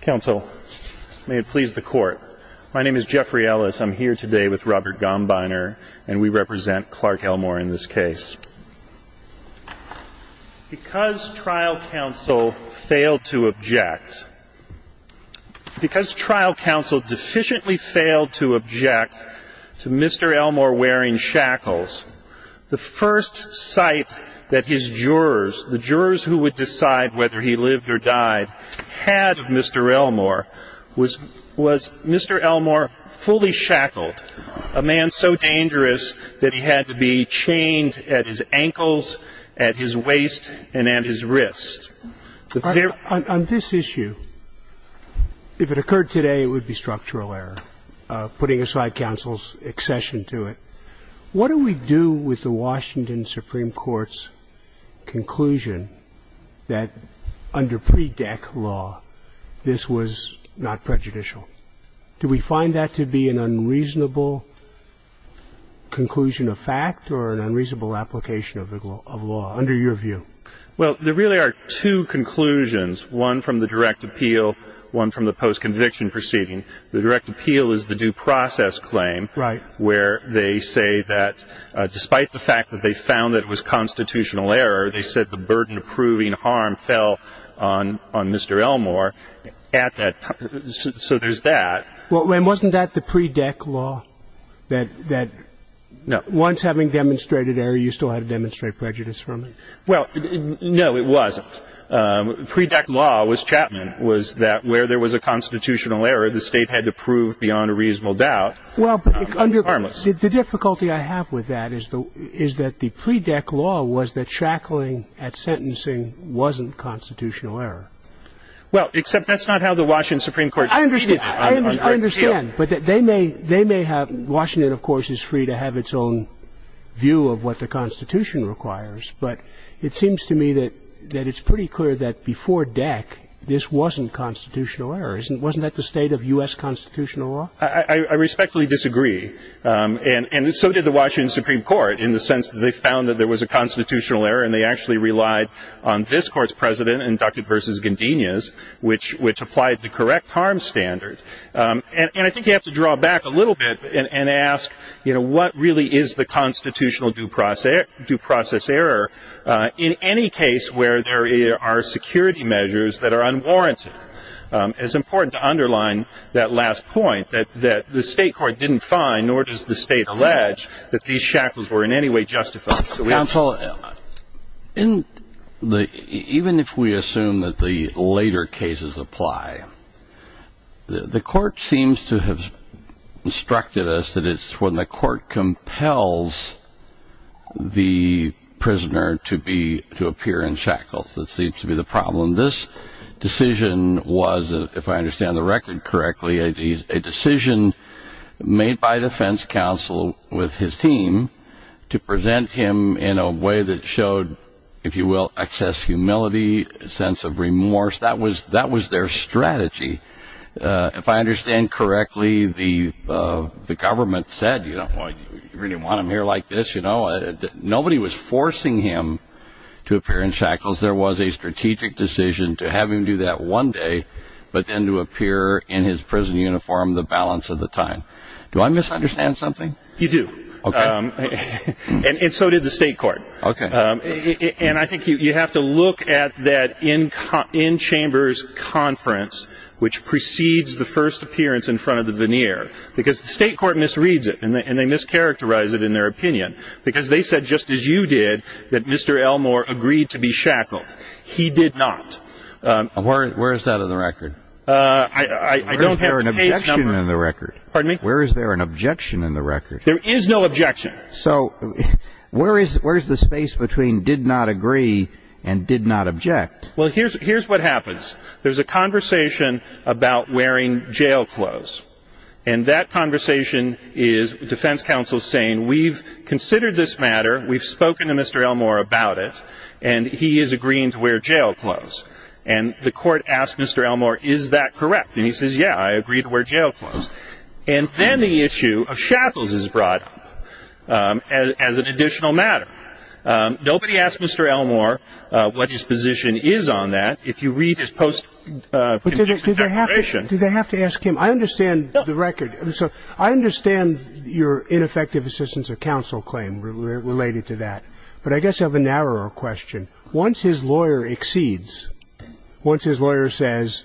Counsel, may it please the court. My name is Jeffrey Ellis. I'm here today with Robert Gombiner, and we represent Clark Elmore in this case. Because trial counsel failed to object, because trial counsel deficiently failed to object to Mr. Elmore wearing shackles, the first site that his jurors, the jurors who would decide whether he lived or died, had of Mr. Elmore was Mr. Elmore fully shackled, a man so dangerous that he had to be chained at his ankles, at his waist, and at his wrist. On this issue, if it occurred today, it would be structural error, putting aside counsel's accession to it. What do we do with the Washington Supreme Court's conclusion that under pre-deck law, this was not prejudicial? Do we find that to be an unreasonable conclusion of fact or an unreasonable application of law, under your view? Well, there really are two conclusions, one from the direct appeal, one from the post-conviction proceeding. The direct appeal is the due process claim, where they say that despite the fact that they found that it was a constitutional error, they said the burden of proving harm fell on Mr. Elmore at that time. So there's that. Well, and wasn't that the pre-deck law, that once having demonstrated error, you still had to demonstrate prejudice from it? Well, no, it wasn't. Pre-deck law was Chapman, was that where there was a constitutional error, the state had to prove beyond a reasonable doubt it was harmless. The difficulty I have with that is that the pre-deck law was that shackling at sentencing wasn't constitutional error. Well, except that's not how the Washington Supreme Court treated it on direct appeal. I understand. But they may have, Washington, of course, is free to have its own view of what the Constitution requires. But it seems to me that it's pretty clear that before deck, this wasn't constitutional error. Wasn't that the state of US constitutional law? I respectfully disagree. And so did the Washington Supreme Court, in the sense that they found that there was a constitutional error. And they actually relied on this court's president, inducted versus Guindinia's, which applied the correct harm standard. And I think you have to draw back a little bit and ask, what really is the constitutional due process error in any case where there are security measures that are unwarranted? It's important to underline that last point, that the state court didn't find, nor does the state allege, that these shackles were in any way justified. Counsel, even if we assume that the later cases apply, the court seems to have instructed us that it's when the court compels the prisoner to appear in shackles that seems to be the problem. This decision was, if I understand the record correctly, a decision made by defense counsel with his team to present him in a way that showed, if you will, excess humility, a sense of remorse. That was their strategy. If I understand correctly, the government said, you know, you really want him here like this, you know? Nobody was forcing him to appear in shackles. There was a strategic decision to have him do that one day, but then to appear in his prison uniform the balance of the time. Do I misunderstand something? You do. And so did the state court. And I think you have to look at that in-chambers conference, which precedes the first appearance in front of the veneer. Because the state court misreads it, and they mischaracterize it in their opinion. Because they said, just as you did, that Mr. Elmore agreed to be shackled. He did not. Where is that in the record? I don't have the case number. Where is there an objection in the record? Pardon me? Where is there an objection in the record? There is no objection. So where is the space between did not agree and did not object? Well, here's what happens. There's a conversation about wearing jail clothes. And that conversation is defense counsel saying, we've considered this matter, we've spoken to Mr. Elmore about it, and he is agreeing to wear jail clothes. And the court asked Mr. Elmore, is that correct? And he says, yeah, I agree to wear jail clothes. And then the issue of shackles is brought up as an additional matter. Nobody asked Mr. Elmore what his position is on that. If you read his post-conviction declaration. Do they have to ask him? I understand the record. I understand your ineffective assistance of counsel claim related to that. But I guess I have a narrower question. Once his lawyer exceeds, once his lawyer says,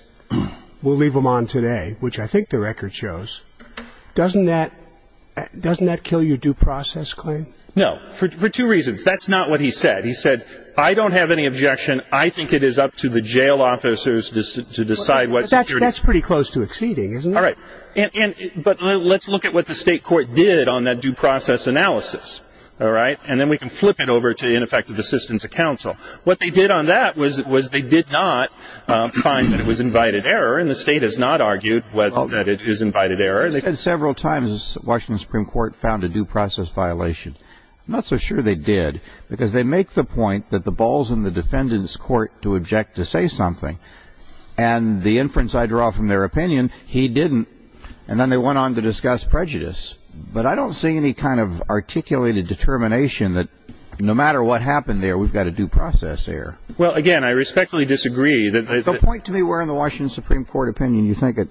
we'll leave him on today, which I think the record shows, doesn't that kill your due process claim? No, for two reasons. That's not what he said. He said, I don't have any objection. I think it is up to the jail officers to decide what security. That's pretty close to exceeding, isn't it? All right. But let's look at what the state court did on that due process analysis. All right. And then we can flip it over to ineffective assistance of counsel. What they did on that was they did not find that it was invited error. And the state has not argued that it is invited error. They did several times, the Washington Supreme Court found a due process violation. Not so sure they did. Because they make the point that the ball's in the defendant's court to object to say something. And the inference I draw from their opinion, he didn't. And then they went on to discuss prejudice. But I don't see any kind of articulated determination that no matter what happened there, we've got a due process error. Well, again, I respectfully disagree that they've been. Don't point to me where in the Washington Supreme Court opinion you think it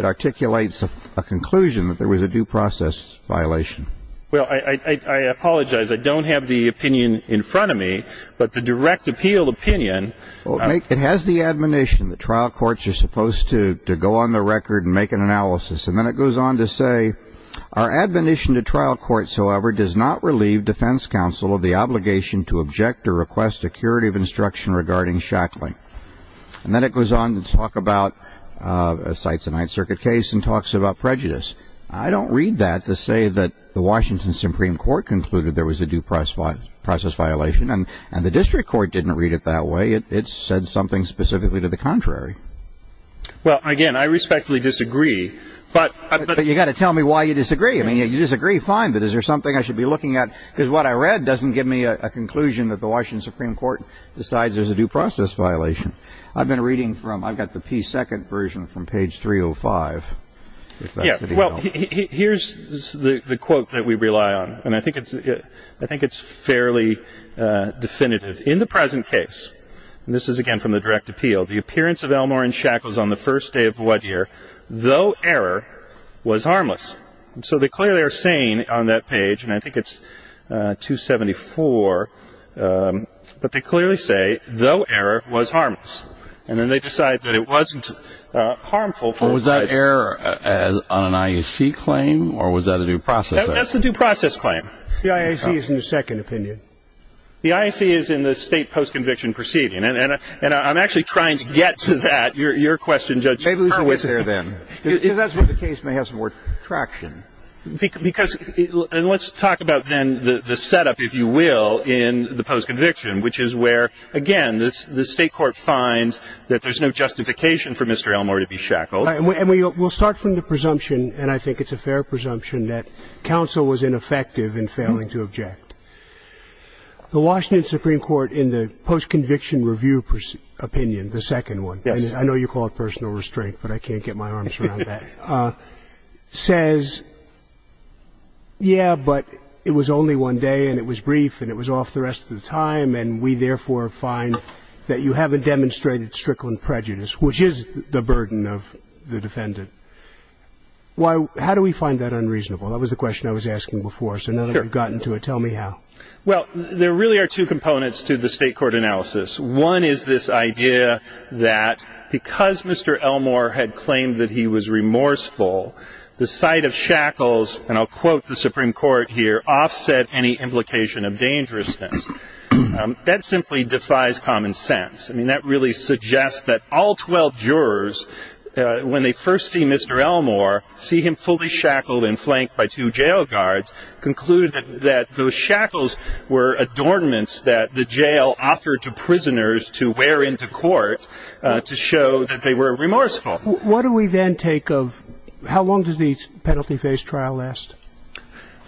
articulates a conclusion that there was a due process violation. Well, I apologize. I don't have the opinion in front of me. But the direct appeal opinion. It has the admonition that trial courts are supposed to go on the record and make an analysis. And then it goes on to say, our admonition to trial courts, however, does not relieve defense counsel of the obligation to object or request a curative instruction regarding shackling. And then it goes on to talk about a Sites of Ninth Circuit case and talks about prejudice. I don't read that to say that the Washington Supreme Court concluded there was a due process violation. And the district court didn't read it that way. It said something specifically to the contrary. Well, again, I respectfully disagree. But you've got to tell me why you disagree. I mean, you disagree, fine. But is there something I should be looking at? Because what I read doesn't give me a conclusion that the Washington Supreme Court decides there's a due process violation. I've been reading from, I've got the P2 version from page 305. Yeah, well, here's the quote that we rely on. And I think it's fairly definitive. In the present case, and this is, again, from the direct appeal, the appearance of Elmore and Shackles on the first day of what year, though error was harmless. So they clearly are saying on that page, and I think it's 274, but they clearly say, though error was harmless. And then they decide that it wasn't harmful. Or was that error on an IAC claim? Or was that a due process error? That's the due process claim. The IAC is in the second opinion. The IAC is in the state post-conviction proceeding. And I'm actually trying to get to that. Your question, Judge Hurwitz. Maybe it was there then. Because that's what the case may have some more traction. And let's talk about, then, the setup, if you will, in the post-conviction, which is where, again, the state court finds that there's no justification for Mr. Elmore to be shackled. And we'll start from the presumption, and I think it's a fair presumption, that counsel was ineffective in failing to object. The Washington Supreme Court, in the post-conviction review opinion, the second one, I know you call it personal restraint, but I can't get my arms around that, says, yeah, but it was only one day, and it was brief, and it was off the rest of the time. And we, therefore, find that you haven't demonstrated strickling prejudice, which is the burden of the defendant. How do we find that unreasonable? That was the question I was asking before. So now that we've gotten to it, tell me how. Well, there really are two components to the state court analysis. One is this idea that, because Mr. Elmore had claimed that he was remorseful, the sight of shackles, and I'll quote the Supreme Court here, offset any implication of dangerousness. That simply defies common sense. I mean, that really suggests that all 12 jurors, when they first see Mr. Elmore, see him fully shackled and flanked by two jail guards, conclude that those shackles were adornments that the jail offered to prisoners to wear into court to show that they were remorseful. What do we then take of, how long does the penalty phase trial last?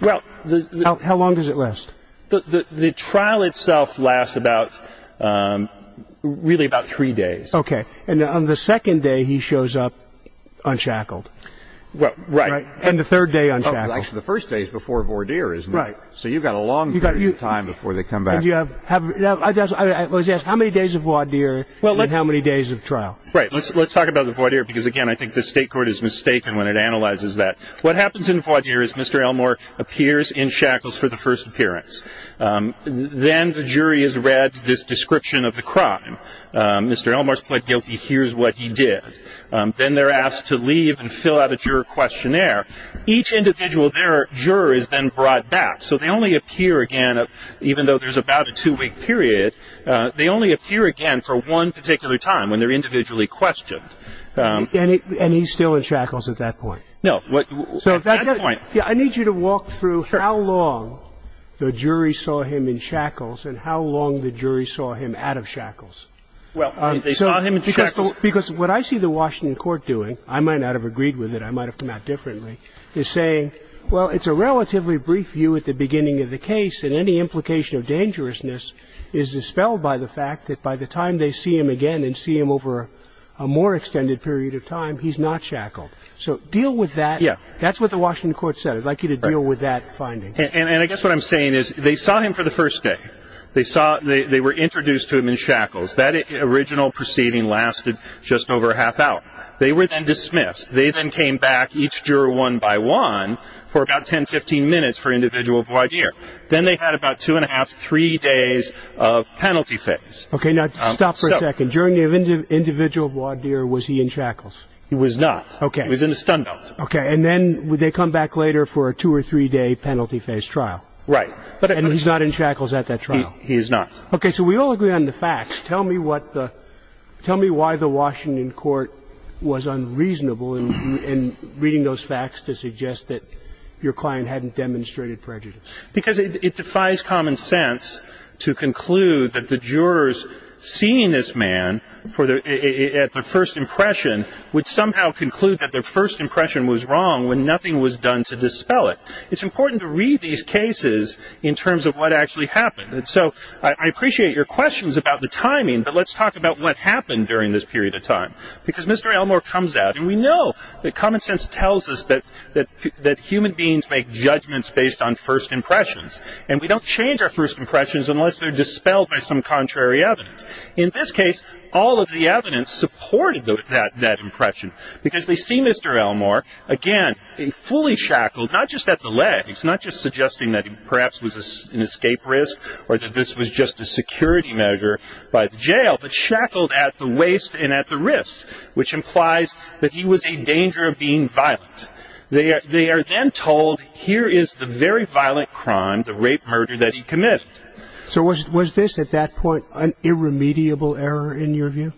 Well, the- How long does it last? The trial itself lasts about, really, about three days. OK. And on the second day, he shows up unshackled. Well, right. And the third day, unshackled. Actually, the first day is before voir dire, isn't it? Right. So you've got a long period of time before they come back. And you have, I was asked, how many days of voir dire, and how many days of trial? Right. Let's talk about the voir dire, because again, I think the state court is mistaken when it analyzes that. What happens in voir dire is Mr. Elmore appears in shackles for the first appearance. Then the jury has read this description of the crime. Mr. Elmore's pled guilty. Here's what he did. Then they're asked to leave and fill out a juror questionnaire. Each individual, their juror is then brought back. So they only appear again, even though there's about a two-week period. They only appear again for one particular time, when they're individually questioned. And he's still in shackles at that point. No, at that point. I need you to walk through how long the jury saw him in shackles, and how long the jury saw him out of shackles. Well, they saw him in shackles. Because what I see the Washington court doing, I might not have agreed with it, I might have come out differently, is saying, well, it's a relatively brief view at the beginning of the case. And any implication of dangerousness is dispelled by the fact that by the time they see him again and see him over a more extended period of time, he's not shackled. So deal with that. Yeah. That's what the Washington court said. I'd like you to deal with that finding. And I guess what I'm saying is, they saw him for the first day. They were introduced to him in shackles. That original proceeding lasted just over a half hour. They were then dismissed. They then came back, each juror one by one, for about 10, 15 minutes for individual voir dire. Then they had about two and a half, three days of penalty phase. OK, now stop for a second. During the individual voir dire, was he in shackles? He was not. OK. He was in a stun belt. OK, and then would they come back later for a two or three day penalty phase trial? Right. And he's not in shackles at that trial? He is not. OK, so we all agree on the facts. Tell me why the Washington court was unreasonable in reading those facts to suggest that your client hadn't demonstrated prejudice. Because it defies common sense to conclude that the jurors seeing this man at their first impression would somehow conclude that their first impression was wrong when nothing was done to dispel it. It's important to read these cases in terms of what actually happened. So I appreciate your questions about the timing, but let's talk about what happened during this period of time. Because Mr. Elmore comes out, and we know that common sense tells us that human beings make judgments based on first impressions. And we don't change our first impressions unless they're dispelled by some contrary evidence. In this case, all of the evidence supported that impression. Because they see Mr. Elmore, again, fully shackled, not just at the legs, not just suggesting that he perhaps was an escape risk or that this was just a security measure by the jail, but shackled at the waist and at the wrist, which implies that he was in danger of being violent. They are then told, here is the very violent crime, the rape murder that he committed. So was this, at that point, an irremediable error in your view?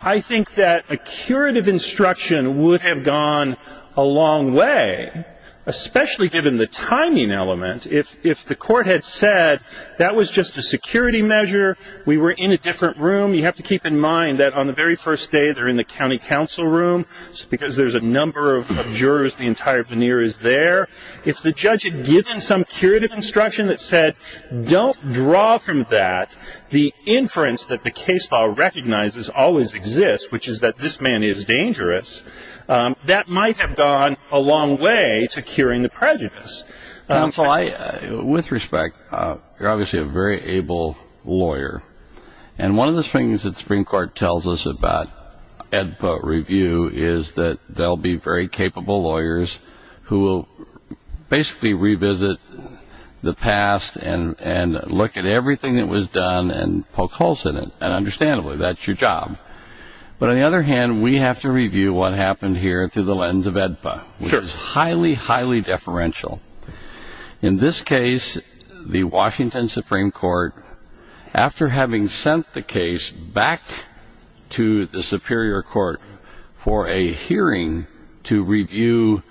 I think that a curative instruction would have gone a long way, especially given the timing element. If the court had said, that was just a security measure, we were in a different room, you have to keep in mind that on the very first day, they're in the county council room, because there's a number of jurors, the entire veneer is there. If the judge had given some curative instruction that said, don't draw from that, the inference that the case law recognizes always exists, which is that this man is dangerous, that might have gone a long way to curing the prejudice. With respect, you're obviously a very able lawyer. And one of the things that Supreme Court tells us about AEDPA review is that they'll be very capable lawyers who will basically revisit the past and look at everything that was done and poke holes in it. And understandably, that's your job. But on the other hand, we have to review what happened here through the lens of AEDPA, which is highly, highly deferential. In this case, the Washington Supreme Court, after having sent the case back to the Superior Court for a hearing to review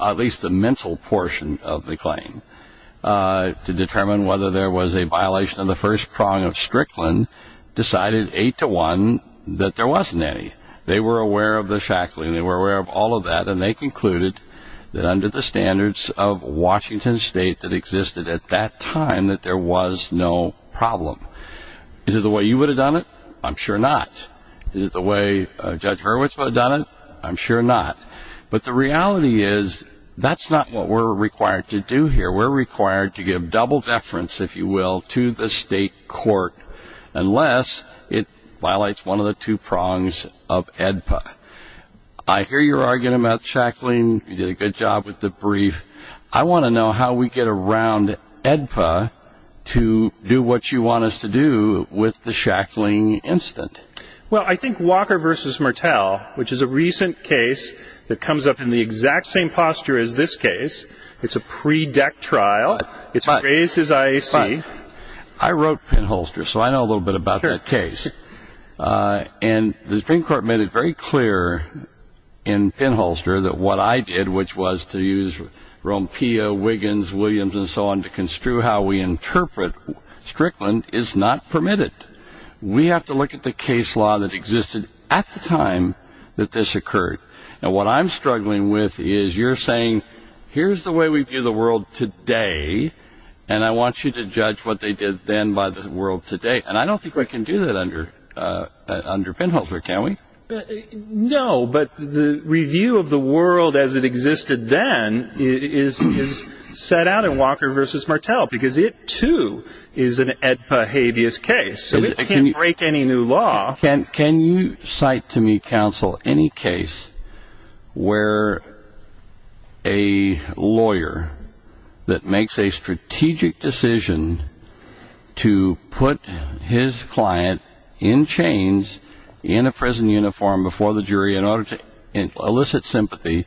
at least the mental portion of the claim to determine whether there was a violation of the first prong of Strickland, decided 8 to 1 that there wasn't any. They were aware of the shackling. They were aware of all of that. And they concluded that under the standards of Washington State that existed at that time, that there was no problem. Is it the way you would have done it? I'm sure not. Is it the way Judge Hurwitz would have done it? I'm sure not. But the reality is that's not what we're required to do here. We're required to give double deference, if you will, to the state court unless it violates one of the two prongs of AEDPA. I hear your argument about shackling. You did a good job with the brief. I want to know how we get around AEDPA to do what you want us to do with the shackling incident. Well, I think Walker v. Martel, which is a recent case that comes up in the exact same posture as this case, it's a pre-deck trial. It's raised his IAC. I wrote Pinholster, so I know a little bit about that case. And the Supreme Court made it very clear in Pinholster that what I did, which was to use Rompea, Wiggins, Williams, and so on to construe how we interpret Strickland, is not permitted. We have to look at the case law that existed at the time that this occurred. And what I'm struggling with is you're saying, here's the way we view the world today, and I want you to judge what they did then by the world today. And I don't think we can do that under Pinholster, can we? No, but the review of the world as it existed then is set out in Walker v. Martel, because it, too, is an ad behabeus case, so it can't break any new law. Can you cite to me, counsel, any case where a lawyer that makes a strategic decision to put his client in chains, in a prison uniform before the jury in order to elicit sympathy,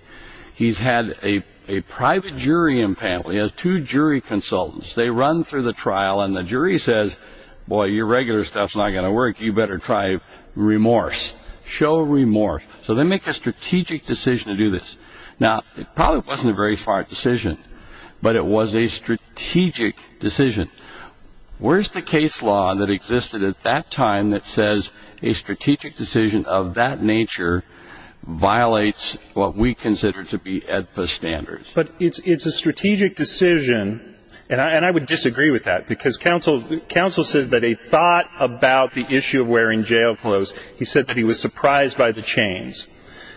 he's had a private jury in panel. He has two jury consultants. They run through the trial, and the jury says, boy, your regular stuff's not going to work. You better try remorse. Show remorse. So they make a strategic decision to do this. Now, it probably wasn't a very smart decision, but it was a strategic decision. Where's the case law that existed at that time that says a strategic decision of that nature violates what we consider to be AEDPA standards? But it's a strategic decision, and I would disagree with that, because counsel says that a thought about the issue of wearing jail clothes, he said that he was surprised by the chains.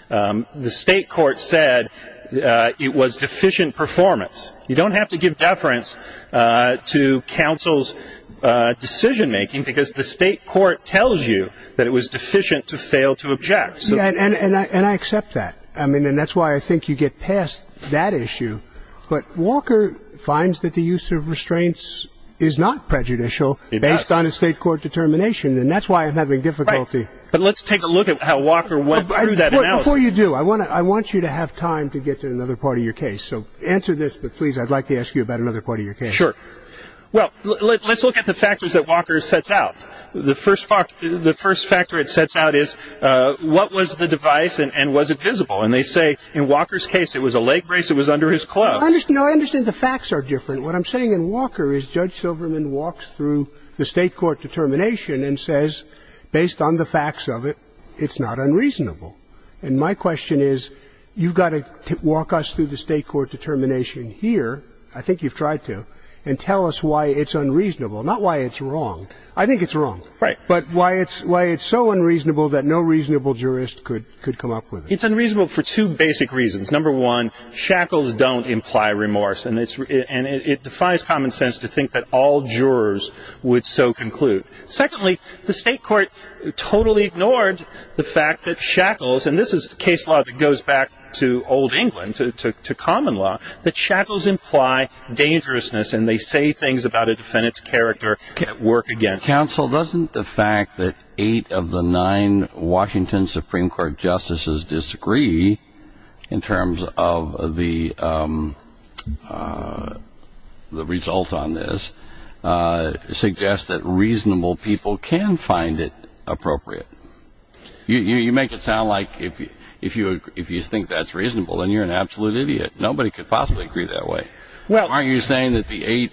The state court said it was deficient performance. You don't have to give deference to counsel's decision making, because the state court tells you that it was deficient to fail to object. And I accept that. I mean, and that's why I think you get past that issue. But Walker finds that the use of restraints is not prejudicial based on a state court determination, and that's why I'm having difficulty. But let's take a look at how Walker went through that. Before you do, I want you to have time to get to another part of your case. So answer this, but please, I'd like to ask you about another part of your case. Sure. Well, let's look at the factors that Walker sets out. The first factor it sets out is, what was the device, and was it visible? And they say, in Walker's case, it was a leg brace. It was under his clothes. I understand the facts are different. What I'm saying in Walker is Judge Silverman walks through the state court determination and says, based on the facts of it, it's not unreasonable. And my question is, you've got to walk us through the state court determination here. I think you've tried to. And tell us why it's unreasonable, not why it's wrong. I think it's wrong, but why it's so unreasonable that no reasonable jurist could come up with it. It's unreasonable for two basic reasons. Number one, shackles don't imply remorse. And it defies common sense to think that all jurors would so conclude. Secondly, the state court totally ignored the fact that shackles, and this is case law that goes back to old England, to common law, that shackles imply dangerousness, and they say things about a defendant's character can't work against. Counsel, doesn't the fact that eight of the nine Washington Supreme Court justices disagree in terms of the result on this suggests that reasonable people can find it appropriate? You make it sound like if you think that's reasonable, then you're an absolute idiot. Nobody could possibly agree that way. Aren't you saying that the eight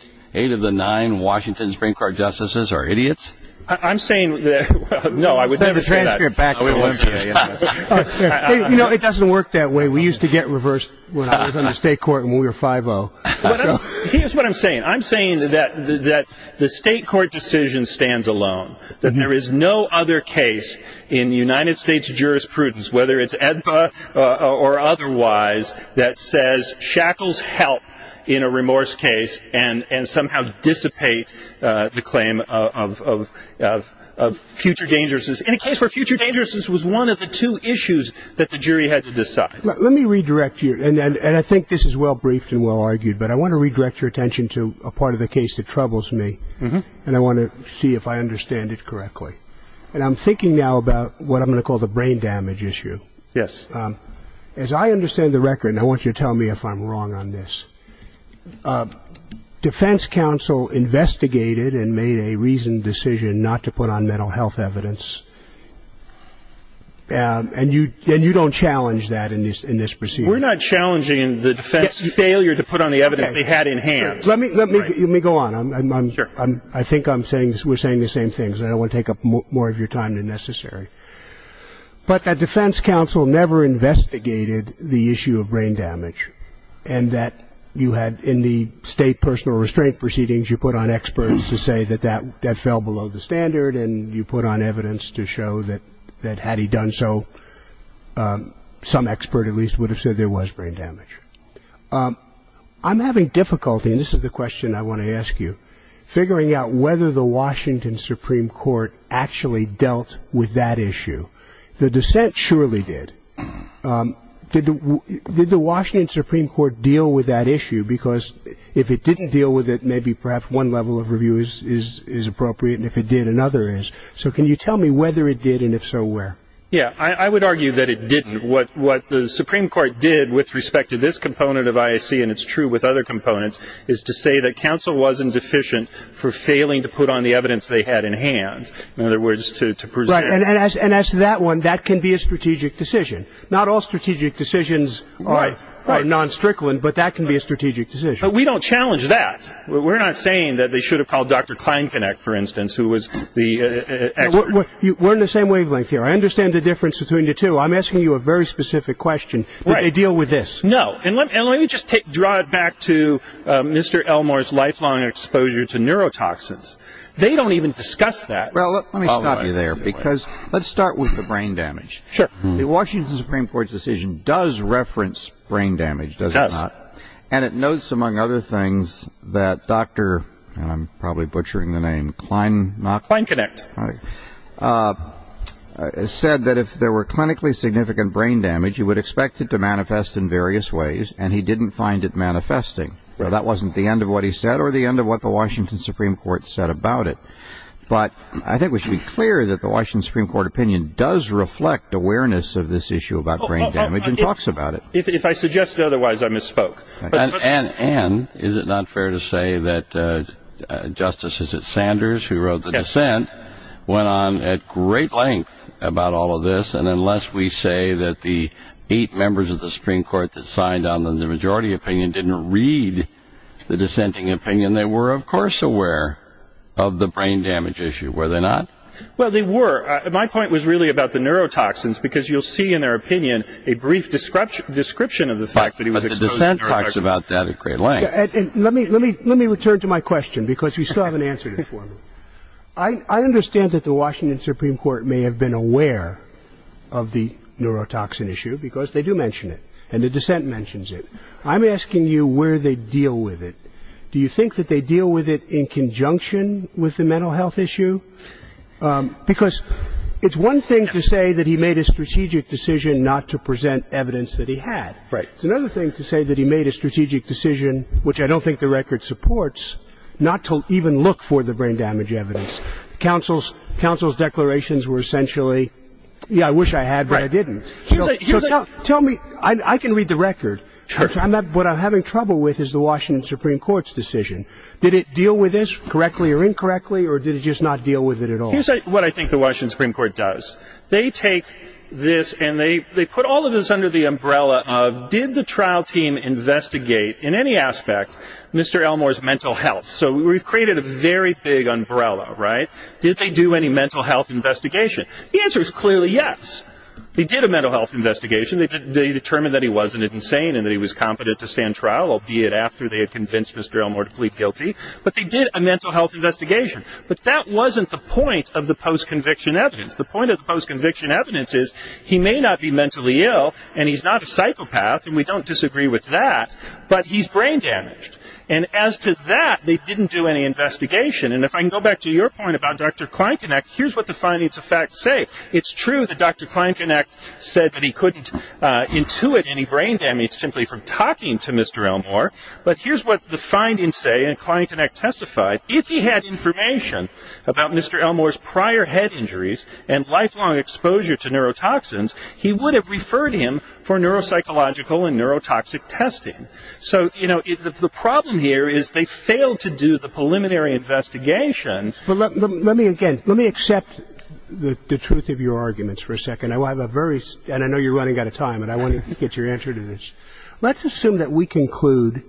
of the nine Washington Supreme Court justices are idiots? I'm saying that, no, I would never say that. Let's transfer it back to Elizabeth. It doesn't work that way. We used to get reversed when I was on the state court and we were 5-0. Here's what I'm saying. I'm saying that the state court decision stands alone, that there is no other case in United States jurisprudence, whether it's AEDPA or otherwise, that says shackles help in a remorse case and somehow dissipate the claim of future dangerousness, in a case where future dangerousness was one of the two issues that the jury had to decide. Let me redirect you, and I think this is well-briefed and well-argued, but I want to redirect your attention to a part of the case that troubles me, and I want to see if I understand it correctly. And I'm thinking now about what I'm going to call the brain damage issue. Yes. As I understand the record, and I want you to tell me if I'm wrong on this, defense counsel investigated and made a reasoned decision not to put on mental health evidence, and you don't challenge that in this procedure. We're not challenging the defense's failure to put on the evidence they had in hand. Let me go on. I think we're saying the same things. I don't want to take up more of your time than necessary. But a defense counsel never investigated the issue of brain damage, and that you had in the state personal restraint proceedings, you put on experts to say that that fell below the standard, and you put on evidence to show that had he done so, some expert at least would have said there was brain damage. I'm having difficulty, and this is the question I want to ask you, figuring out whether the Washington Supreme Court actually dealt with that issue. The dissent surely did. Did the Washington Supreme Court deal with that issue? Because if it didn't deal with it, maybe perhaps one level of review is appropriate, and if it did, another is. So can you tell me whether it did, and if so, where? Yeah, I would argue that it didn't. What the Supreme Court did with respect to this component of IAC, and it's true with other components, is to say that counsel wasn't deficient for failing to put on the evidence they had in hand. In other words, to present. And as to that one, that can be a strategic decision. Not all strategic decisions are non-strickland, but that can be a strategic decision. But we don't challenge that. We're not saying that they should have called Dr. Kleinknecht, for instance, who was the expert. We're in the same wavelength here. I understand the difference between the two. I'm asking you a very specific question. Did they deal with this? No. And let me just draw it back to Mr. Elmore's lifelong exposure to neurotoxins. They don't even discuss that. Well, let me stop you there, because let's start with the brain damage. The Washington Supreme Court's decision does reference brain damage, does it not? It does. And it notes, among other things, that Dr. and I'm probably butchering the name, Kleinknecht, said that if there were clinically significant brain damage, you would expect it to manifest in various ways. And he didn't find it manifesting. Now, that wasn't the end of what he said or the end of what the Washington Supreme Court said about it. But I think we should be clear that the Washington Supreme Court opinion does reflect awareness of this issue about brain damage and talks about it. If I suggested otherwise, I misspoke. And is it not fair to say that Justice Sanders, who went on at great length about all of this, and unless we say that the eight members of the Supreme Court that signed on the majority opinion didn't read the dissenting opinion, they were, of course, aware of the brain damage issue, were they not? Well, they were. My point was really about the neurotoxins, because you'll see in their opinion a brief description of the fact that he was exposed to neurotoxins. But the dissent talks about that at great length. And let me return to my question, because you still haven't answered it for me. I understand that the Washington Supreme Court may have been aware of the neurotoxin issue, because they do mention it. And the dissent mentions it. I'm asking you where they deal with it. Do you think that they deal with it in conjunction with the mental health issue? Because it's one thing to say that he made a strategic decision not to present evidence that he had. It's another thing to say that he made a strategic decision, which I don't think the record supports, not to even look for the brain damage evidence. Counsel's declarations were essentially, yeah, I wish I had, but I didn't. Tell me. I can read the record. What I'm having trouble with is the Washington Supreme Court's decision. Did it deal with this correctly or incorrectly? Or did it just not deal with it at all? Here's what I think the Washington Supreme Court does. They take this, and they put all of this under the umbrella of, did the trial team investigate, in any aspect, Mr. Elmore's mental health? So we've created a very big umbrella, right? Did they do any mental health investigation? The answer is clearly yes. They did a mental health investigation. They determined that he wasn't insane and that he was competent to stand trial, albeit after they had convinced Mr. Elmore to plead guilty. But they did a mental health investigation. But that wasn't the point of the post-conviction evidence. The point of the post-conviction evidence is he may not be mentally ill, and he's not a psychopath, and we don't disagree with that, but he's brain damaged. And as to that, they didn't do any investigation. And if I can go back to your point about Dr. Kleinkonig, here's what the findings of fact say. It's true that Dr. Kleinkonig said that he couldn't intuit any brain damage simply from talking to Mr. Elmore. But here's what the findings say, and Kleinkonig testified, if he had information about Mr. Elmore's prior head injuries and lifelong exposure to neurotoxins, he would have referred him for neuropsychological and neurotoxic testing. So, you know, the problem here is they failed to do the preliminary investigation. But let me again, let me accept the truth of your arguments for a second. I have a very, and I know you're running out of time, but I want to get your answer to this. Let's assume that we conclude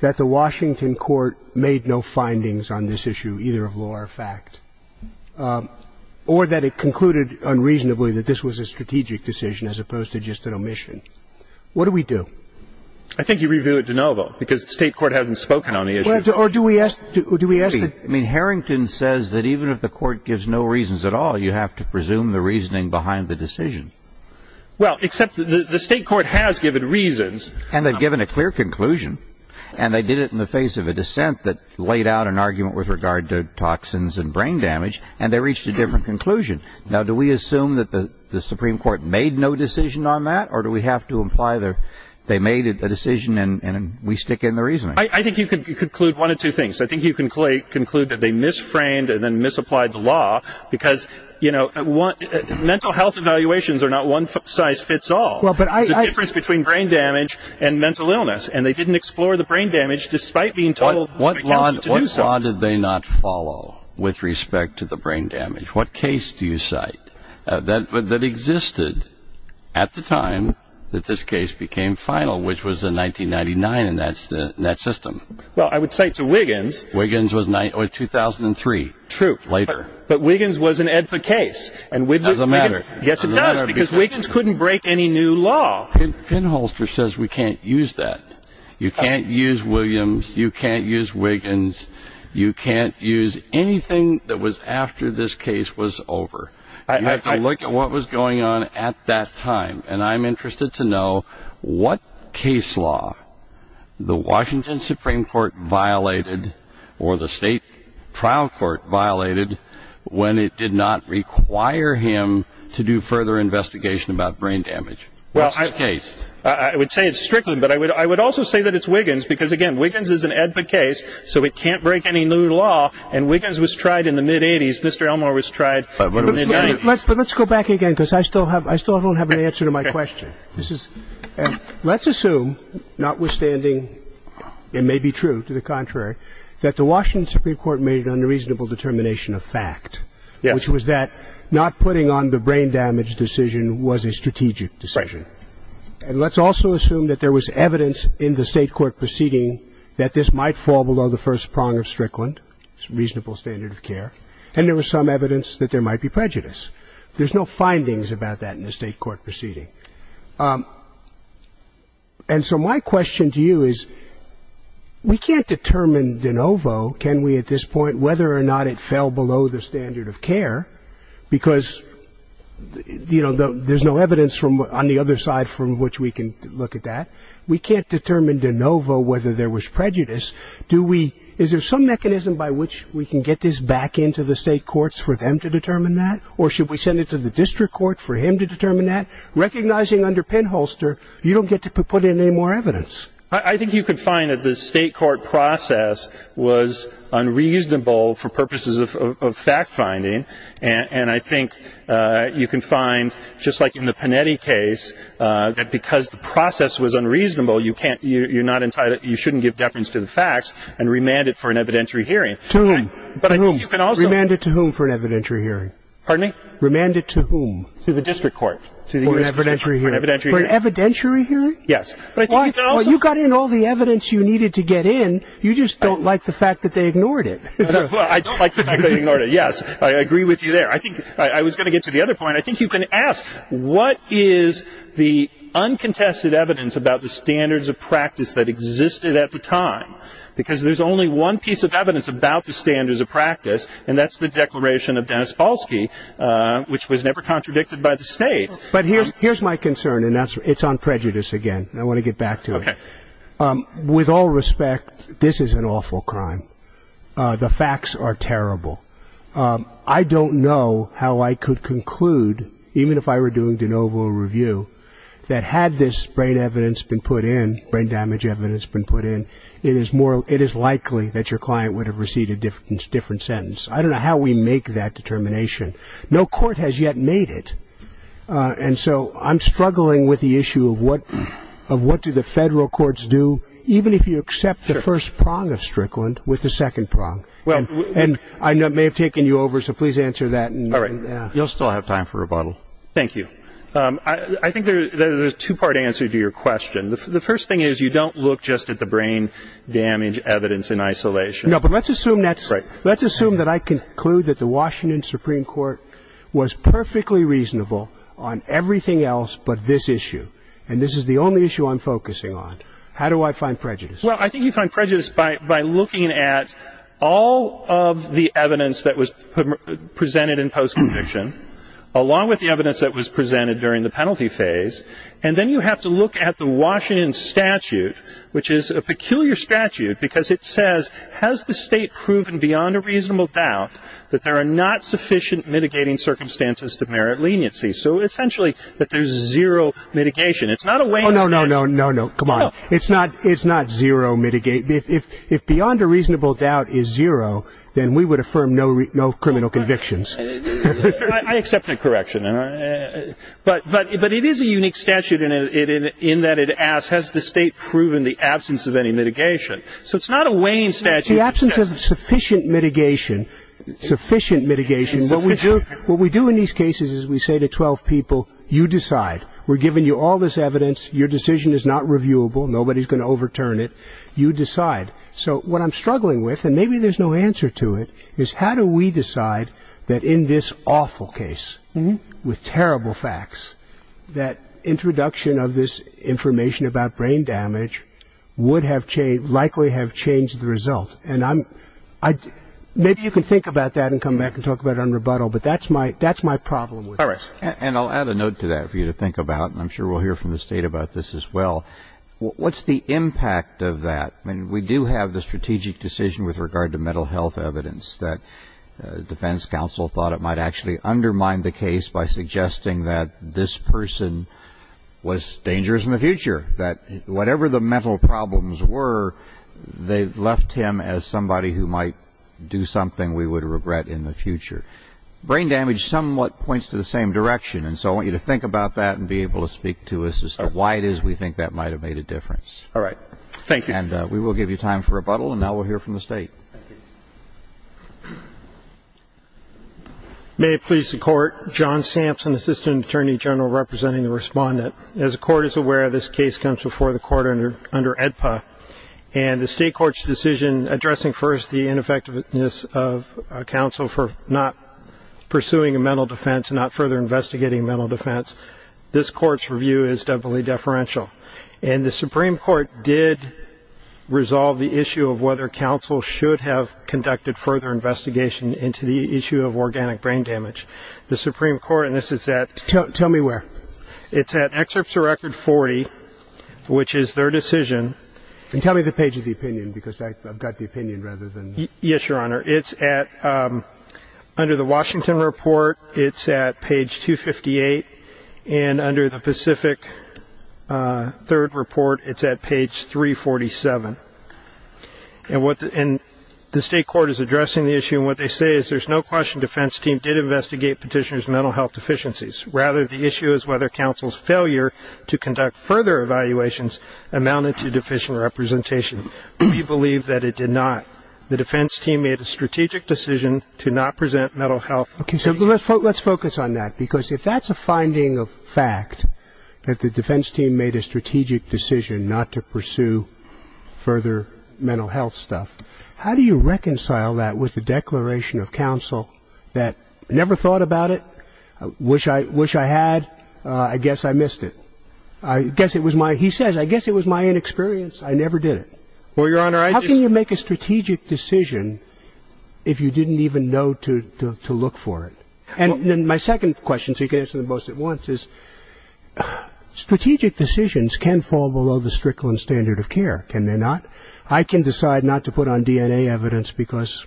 that the Washington court made no findings on this issue, either of law or fact, or that it concluded unreasonably that this was a strategic decision as opposed to just an omission. What do we do? I think you review it de novo, because the state court hasn't spoken on the issue. Or do we ask, do we ask the- I mean, Harrington says that even if the court gives no reasons at all, you have to presume the reasoning behind the decision. Well, except the state court has given reasons. And they've given a clear conclusion, and they did it in the face of a dissent that laid out an argument with regard to toxins and brain damage, and they reached a different conclusion. Now, do we assume that the Supreme Court made no decision on that, or do we have to imply they made a decision and we stick in the reasoning? I think you can conclude one of two things. I think you can conclude that they misframed and then misapplied the law, because mental health evaluations are not one-size-fits-all. There's a difference between brain damage and mental illness, and they didn't explore the brain damage despite being told by counsel to do so. What law did they not follow with respect to the brain damage? What case do you cite that existed at the time that this case became final, which was in 1999 in that system? Well, I would cite to Wiggins. Wiggins was 2003. True. Later. But Wiggins was an AEDPA case. And Wiggins- Doesn't matter. Yes, it does, because Wiggins couldn't break any new law. Penholster says we can't use that. You can't use Williams, you can't use Wiggins, you can't use anything that was after this case was over. You have to look at what was going on at that time. And I'm interested to know what case law the Washington Supreme Court violated or the state trial court violated when it did not require him to do further investigation about brain damage. What's the case? I would say it's Strickland, but I would also say that it's Wiggins, because, again, Wiggins is an AEDPA case, so it can't break any new law. And Wiggins was tried in the mid-'80s. Mr. Elmore was tried- But let's go back again, because I still don't have an answer to my question. Let's assume, notwithstanding, it may be true to the contrary, that the Washington Supreme Court made an unreasonable determination of fact, which was that not putting on the brain damage decision was a strategic decision. And let's also assume that there was evidence in the state court proceeding that this might fall below the first prong of Strickland, reasonable standard of care, and there was some evidence that there might be prejudice. There's no findings about that in the state court proceeding. And so my question to you is, we can't determine de novo, can we, at this point, whether or not it fell below the standard of care, because there's no evidence on the other side from which we can look at that. We can't determine de novo whether there was prejudice. Is there some mechanism by which we can get this back into the state courts for them to determine that, or should we send it to the district court for him to determine that? Recognizing under pinholster, you don't get to put in any more evidence. I think you can find that the state court process was unreasonable for purposes of fact-finding, and I think you can find, just like in the Panetti case, that because the process was unreasonable, you shouldn't give deference to the facts and remand it for an evidentiary hearing. To whom? To whom? Remand it to whom for an evidentiary hearing? Pardon me? Remand it to whom? To the district court. For an evidentiary hearing? For an evidentiary hearing? Yes. Well, you got in all the evidence you needed to get in. You just don't like the fact that they ignored it. I don't like the fact that they ignored it, yes. I agree with you there. I think, I was gonna get to the other point. I think you can ask, what is the uncontested evidence about the standards of practice that existed at the time? Because there's only one piece of evidence about the standards of practice, and that's the declaration of Dennis Balski, which was never contradicted by the state. But here's my concern, and it's on prejudice again. I wanna get back to it. Okay. With all respect, this is an awful crime. The facts are terrible. I don't know how I could conclude, even if I were doing de novo review, that had this brain evidence been put in, brain damage evidence been put in, it is likely that your client would have received a different sentence. I don't know how we make that determination. No court has yet made it, and so I'm struggling with the issue of what do the federal courts do, even if you accept the first prong of Strickland with the second prong. And I may have taken you over, so please answer that. All right. You'll still have time for rebuttal. Thank you. I think there's a two-part answer to your question. The first thing is you don't look just at the brain damage evidence in isolation. Let's assume that I conclude that the Washington Supreme Court was perfectly reasonable on everything else but this issue, and this is the only issue I'm focusing on. How do I find prejudice? Well, I think you find prejudice by looking at all of the evidence that was presented in post-conviction, along with the evidence that was presented during the penalty phase, and then you have to look at the Washington statute, which is a peculiar statute, because it says, has the state proven beyond a reasonable doubt that there are not sufficient mitigating circumstances to merit leniency? So essentially, that there's zero mitigation. It's not a Wayne statute. Oh, no, no, no, no, no, come on. It's not zero mitigate. If beyond a reasonable doubt is zero, then we would affirm no criminal convictions. I accept the correction. But it is a unique statute in that it asks, has the state proven the absence of any mitigation? So it's not a Wayne statute. The absence of sufficient mitigation, sufficient mitigation, what we do in these cases is we say to 12 people, you decide. We're giving you all this evidence. Your decision is not reviewable. Nobody's gonna overturn it. You decide. So what I'm struggling with, and maybe there's no answer to it, is how do we decide that in this awful case, with terrible facts, that introduction of this information about brain damage would have likely have changed the result? And maybe you can think about that and come back and talk about it on rebuttal, but that's my problem with this. All right, and I'll add a note to that for you to think about, and I'm sure we'll hear from the state about this as well. What's the impact of that? I mean, we do have the strategic decision with regard to mental health evidence that defense counsel thought it might actually undermine the case by suggesting that this person was dangerous in the future, that whatever the mental problems were, they left him as somebody who might do something we would regret in the future. Brain damage somewhat points to the same direction, and so I want you to think about that and be able to speak to us as to why it is we think that might have made a difference. All right, thank you. And we will give you time for rebuttal, and now we'll hear from the state. May it please the Court, John Sampson, Assistant Attorney General representing the respondent. As the Court is aware, this case comes before the Court under EDPA, and the State Court's decision addressing first the ineffectiveness of counsel for not pursuing a mental defense and not further investigating mental defense, this Court's review is doubly deferential. And the Supreme Court did resolve the issue of whether counsel should have conducted further investigation into the issue of organic brain damage. The Supreme Court, and this is at... Tell me where. It's at excerpts of record 40, which is their decision. And tell me the page of the opinion because I've got the opinion rather than... Yes, Your Honor. It's at, under the Washington report, it's at page 258, and under the Pacific third report, it's at page 347. And what the, and the State Court is addressing the issue, and what they say is there's no question the defense team did investigate petitioner's mental health deficiencies. Rather, the issue is whether counsel's failure to conduct further evaluations amounted to deficient representation. We believe that it did not. The defense team made a strategic decision to not present mental health... Okay, so let's focus on that because if that's a finding of fact that the defense team made a strategic decision not to pursue further mental health stuff, how do you reconcile that with the declaration of counsel that never thought about it, wish I had, I guess I missed it? I guess it was my, he says, I guess it was my inexperience, I never did it. Well, Your Honor, I just... How can you make a strategic decision if you didn't even know to look for it? And then my second question, so you can answer them both at once, is strategic decisions can fall below the Strickland standard of care, can they not? I can decide not to put on DNA evidence because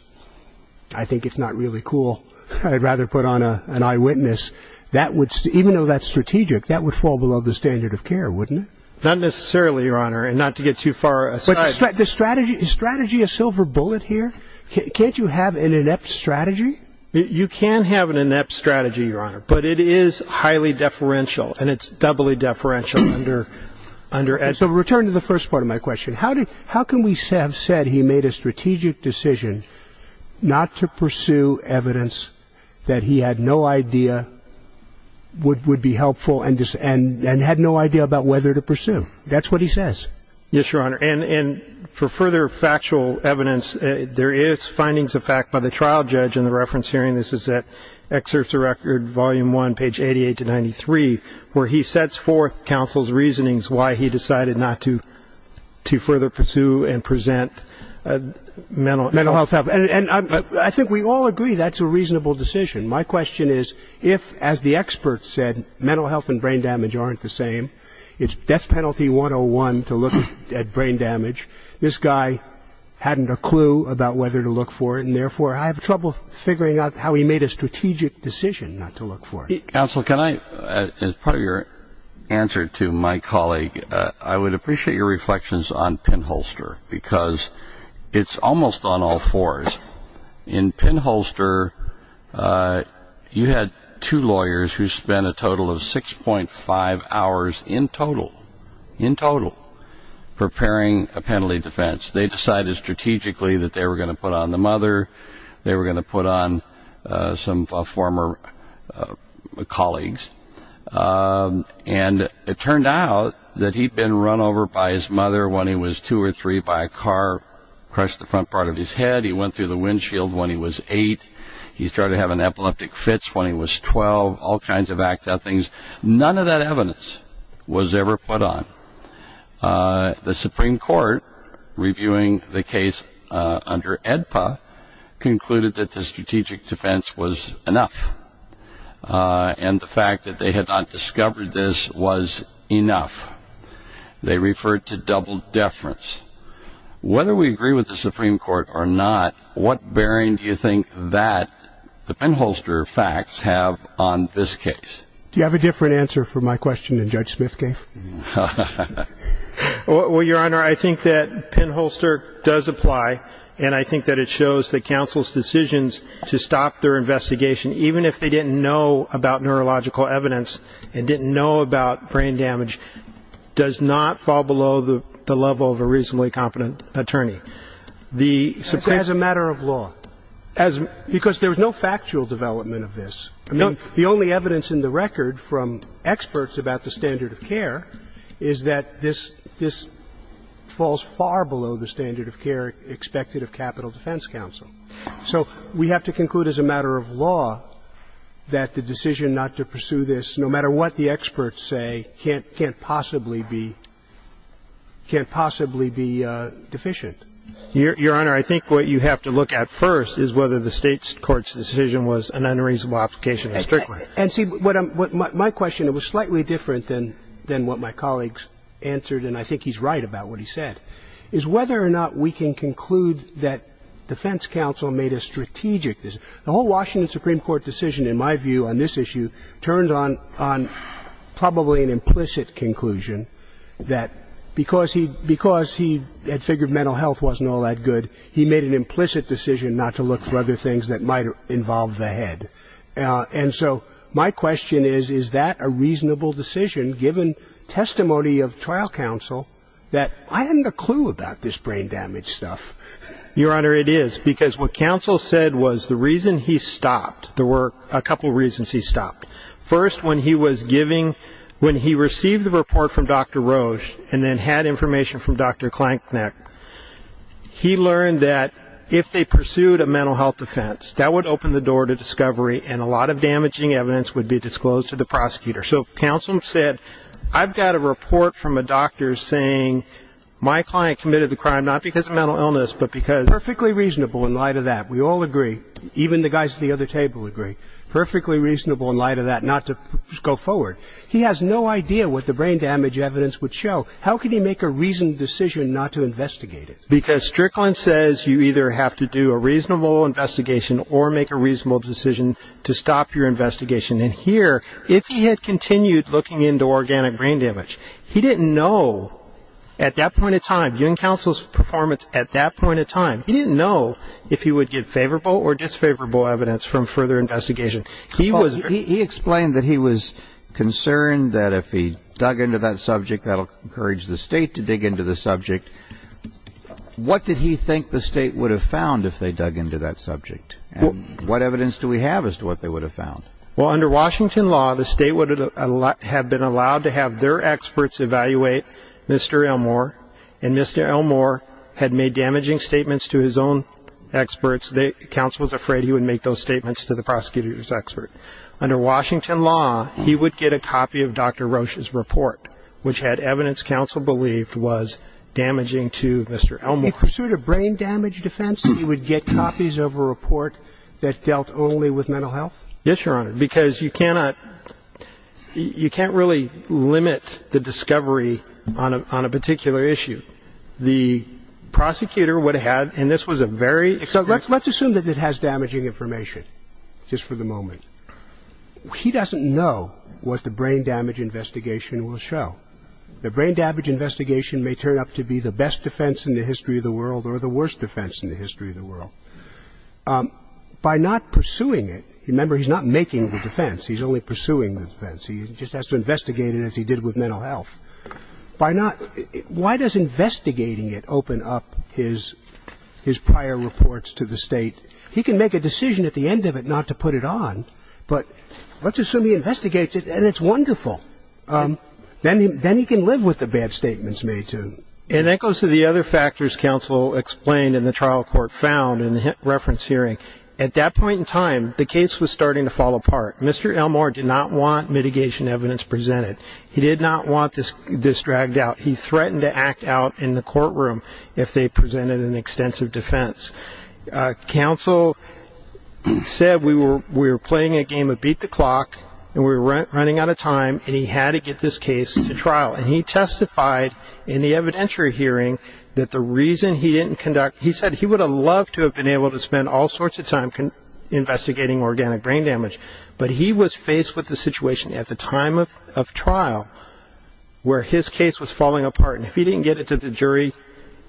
I think it's not really cool. I'd rather put on an eyewitness. That would, even though that's strategic, that would fall below the standard of care, wouldn't it? Not necessarily, Your Honor, and not to get too far aside. Is strategy a silver bullet here? Can't you have an inept strategy? You can have an inept strategy, Your Honor, but it is highly deferential and it's doubly deferential under... So return to the first part of my question. How can we have said he made a strategic decision not to pursue evidence that he had no idea would be helpful and had no idea about whether to pursue? That's what he says. Yes, Your Honor, and for further factual evidence, there is findings of fact by the trial judge in the reference hearing. This is at Excerpts of Record, Volume 1, page 88 to 93, where he sets forth counsel's reasonings why he decided not to further pursue and present mental health. And I think we all agree that's a reasonable decision. My question is if, as the experts said, mental health and brain damage aren't the same, it's death penalty 101 to look at brain damage. This guy hadn't a clue about whether to look for it, and therefore I have trouble figuring out how he made a strategic decision not to look for it. Counsel, can I, as part of your answer to my colleague, I would appreciate your reflections on Penholster, because it's almost on all fours. In Penholster, you had two lawyers who spent a total of 6.5 hours in total, in total, preparing a penalty defense. They decided strategically that they were gonna put on the mother, they were gonna put on some former colleagues. And it turned out that he'd been run over by his mother when he was two or three, by a car, crushed the front part of his head, he went through the windshield when he was eight, he started having epileptic fits when he was 12, all kinds of acts of things. None of that evidence was ever put on. The Supreme Court, reviewing the case under AEDPA, concluded that the strategic defense was enough. And the fact that they had not discovered this was enough. They referred to double deference. Whether we agree with the Supreme Court or not, what bearing do you think that the Penholster facts have on this case? Do you have a different answer for my question than Judge Smith gave? Well, Your Honor, I think that Penholster does apply. And I think that it shows that counsel's decisions to stop their investigation, even if they didn't know about neurological evidence and didn't know about brain damage, does not fall below the level of a reasonably competent attorney. As a matter of law. Because there was no factual development of this. The only evidence in the record from experts about the standard of care is that this falls far below the standard of care expected of capital defense counsel. So we have to conclude as a matter of law that the decision not to pursue this, no matter what the experts say, can't possibly be deficient. Your Honor, I think what you have to look at first is whether the State's Court's decision was an unreasonable application or strictly. And see, my question, it was slightly different than what my colleagues answered, and I think he's right about what he said, is whether or not we can conclude that defense counsel made a strategic decision. The whole Washington Supreme Court decision, in my view, on this issue, turned on probably an implicit conclusion that because he had figured mental health wasn't all that good, he made an implicit decision not to look for other things that might involve the head. And so my question is, is that a reasonable decision, given testimony of trial counsel, that I hadn't a clue about this brain damage stuff? Your Honor, it is, because what counsel said was the reason he stopped, there were a couple reasons he stopped. First, when he was giving, when he received the report from Dr. Roche and then had information from Dr. Klanknick, he learned that if they pursued a mental health defense, that would open the door to discovery and a lot of damaging evidence would be disclosed to the prosecutor. So counsel said, I've got a report from a doctor saying my client committed the crime, not because of mental illness, but because it's perfectly reasonable in light of that. We all agree, even the guys at the other table agree. Perfectly reasonable in light of that not to go forward. He has no idea what the brain damage evidence would show. How can he make a reasoned decision not to investigate it? Because Strickland says you either have to do a reasonable investigation or make a reasonable decision to stop your investigation. And here, if he had continued looking into organic brain damage, he didn't know at that point in time, you and counsel's performance at that point in time, he didn't know if he would get favorable or disfavorable evidence from further investigation. He was- He explained that he was concerned that if he dug into that subject, that'll encourage the state to dig into the subject. What did he think the state would have found if they dug into that subject? What evidence do we have as to what they would have found? Well, under Washington law, the state would have been allowed to have their experts evaluate Mr. Elmore. And Mr. Elmore had made damaging statements to his own experts. Counsel was afraid he would make those statements to the prosecutor's expert. Under Washington law, he would get a copy of Dr. Roche's report, which had evidence counsel believed was damaging to Mr. Elmore. In pursuit of brain damage defense, he would get copies of a report that dealt only with mental health? Yes, Your Honor, because you cannot, you can't really limit the discovery on a particular issue. The prosecutor would have had, and this was a very- So let's assume that it has damaging information, just for the moment. He doesn't know what the brain damage investigation will show. The brain damage investigation may turn up to be the best defense in the history of the world or the worst defense in the history of the world. By not pursuing it, remember he's not making the defense, he's only pursuing the defense. He just has to investigate it as he did with mental health. Why does investigating it open up his prior reports to the state? He can make a decision at the end of it not to put it on, but let's assume he investigates it and it's wonderful. Then he can live with the bad statements made to him. And that goes to the other factors, counsel, and the trial court found in the reference hearing. At that point in time, the case was starting to fall apart. Mr. Elmore did not want mitigation evidence presented. He did not want this dragged out. He threatened to act out in the courtroom if they presented an extensive defense. Counsel said we were playing a game of beat the clock and we were running out of time and he had to get this case to trial. And he testified in the evidentiary hearing that the reason he didn't conduct, he said he would have loved to have been able to spend all sorts of time investigating organic brain damage, but he was faced with the situation at the time of trial where his case was falling apart. And if he didn't get it to the jury,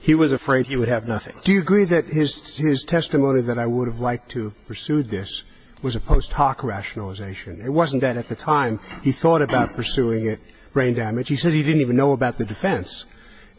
he was afraid he would have nothing. Do you agree that his testimony that I would have liked to have pursued this was a post hoc rationalization? It wasn't that at the time he thought about pursuing it, brain damage. He says he didn't even know about the defense.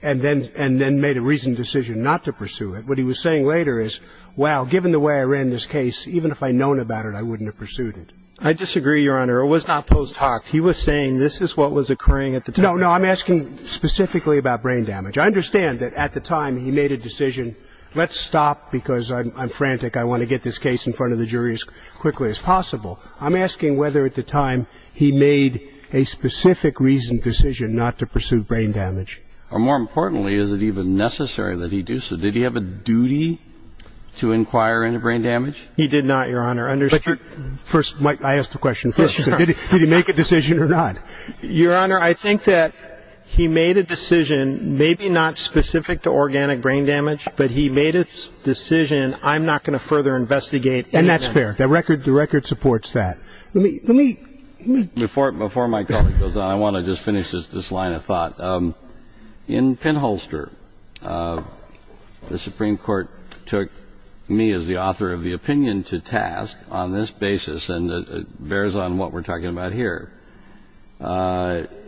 And then made a reasoned decision not to pursue it. What he was saying later is, wow, given the way I ran this case, even if I'd known about it, I wouldn't have pursued it. I disagree, Your Honor. It was not post hoc. He was saying this is what was occurring at the time. No, no, I'm asking specifically about brain damage. I understand that at the time he made a decision, let's stop because I'm frantic. I want to get this case in front of the jury as quickly as possible. I'm asking whether at the time he made a specific reasoned decision not to pursue brain damage. Or more importantly, is it even necessary that he do so? Did he have a duty to inquire into brain damage? He did not, Your Honor. First, Mike, I asked the question first. Did he make a decision or not? Your Honor, I think that he made a decision, maybe not specific to organic brain damage, but he made a decision, I'm not going to further investigate. And that's fair. The record supports that. Let me, let me, let me. Before my colleague goes on, I want to just finish this line of thought. In Pinholster, the Supreme Court took me as the author of the opinion to task on this basis. And it bears on what we're talking about here.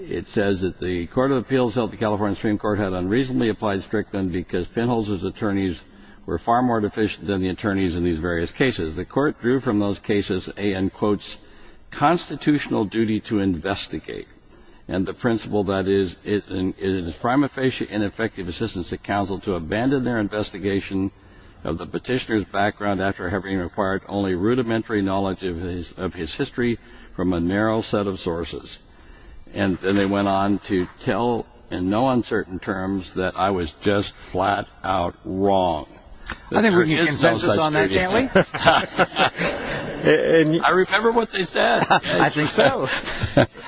It says that the Court of Appeals held the California Supreme Court had unreasonably applied strict them because Pinholster's attorneys were far more deficient than the attorneys in these various cases. The court drew from those cases a, in quotes, constitutional duty to investigate. And the principle that is, it is a prima facie ineffective assistance to counsel to abandon their investigation of the petitioner's background after having acquired only rudimentary knowledge of his history from a narrow set of sources. And then they went on to tell in no uncertain terms that I was just flat out wrong. I think we can get consensus on that, can't we? I remember what they said. I think so.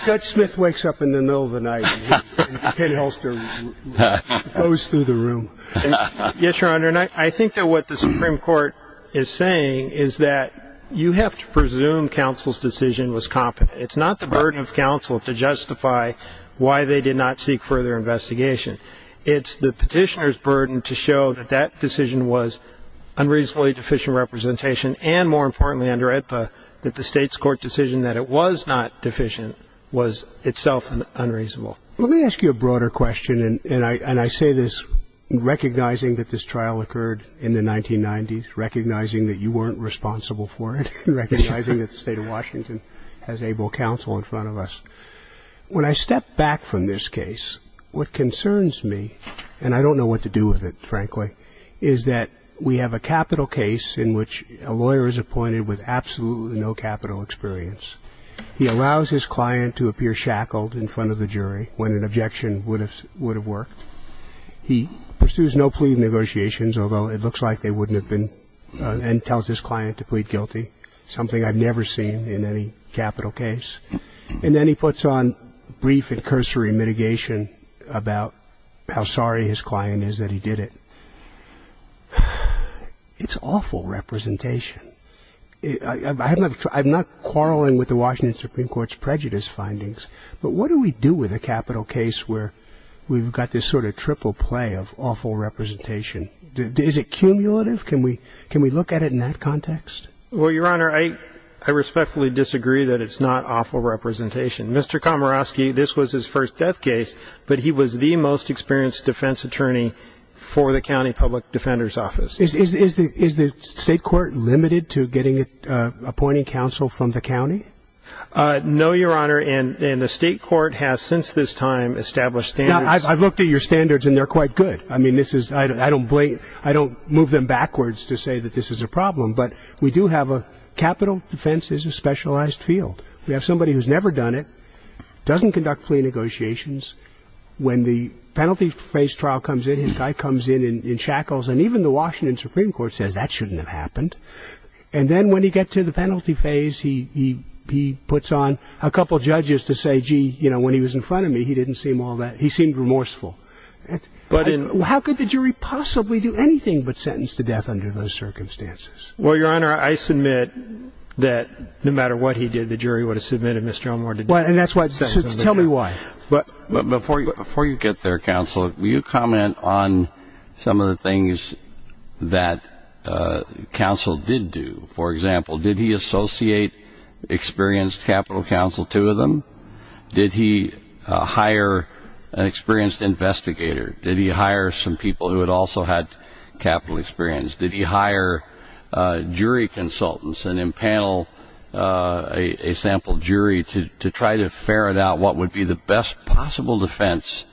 Judge Smith wakes up in the middle of the night and Pinholster goes through the room. Yes, Your Honor, and I think that what the Supreme Court is saying is that you have to presume counsel's decision was competent. It's not the burden of counsel to justify why they did not seek further investigation. It's the petitioner's burden to show that that decision was unreasonably deficient representation and more importantly under AEDPA, that the state's court decision that it was not deficient was itself unreasonable. Let me ask you a broader question. And I say this recognizing that this trial occurred in the 1990s, recognizing that you weren't responsible for it, recognizing that the state of Washington has able counsel in front of us. When I step back from this case, what concerns me, and I don't know what to do with it, frankly, is that we have a capital case in which a lawyer is appointed with absolutely no capital experience. He allows his client to appear shackled in front of the jury when an objection would have worked. He pursues no plea negotiations, although it looks like they wouldn't have been, and tells his client to plead guilty, something I've never seen in any capital case. And then he puts on brief and cursory mitigation about how sorry his client is that he did it. It's awful representation. I'm not quarreling with the Washington Supreme Court's prejudice findings, but what do we do with a capital case where we've got this sort of triple play of awful representation? Is it cumulative? Can we look at it in that context? Well, Your Honor, I respectfully disagree that it's not awful representation. Mr. Komorowski, this was his first death case, but he was the most experienced defense attorney for the county public defender's office. Is the state court limited to getting an appointing counsel from the county? No, Your Honor, and the state court has, since this time, established standards. I've looked at your standards, and they're quite good. I don't move them backwards to say that this is a problem, but we do have a capital defense is a specialized field. We have somebody who's never done it, doesn't conduct plea negotiations. When the penalty phase trial comes in, his guy comes in in shackles, and even the Washington Supreme Court says, that shouldn't have happened. And then when he gets to the penalty phase, he puts on a couple of judges to say, gee, when he was in front of me, he didn't seem all that. He seemed remorseful. How could the jury possibly do anything but sentence to death under those circumstances? Well, Your Honor, I submit that no matter what he did, the jury would have submitted Mr. Elmore to death. And that's what it says. Tell me why. Before you get there, counsel, will you comment on some of the things that counsel did do? For example, did he associate experienced capital counsel, two of them? Did he hire an experienced investigator? Did he hire some people who had also had capital experience? Did he hire jury consultants and impanel a sample jury to try to ferret out what would be the best possible defense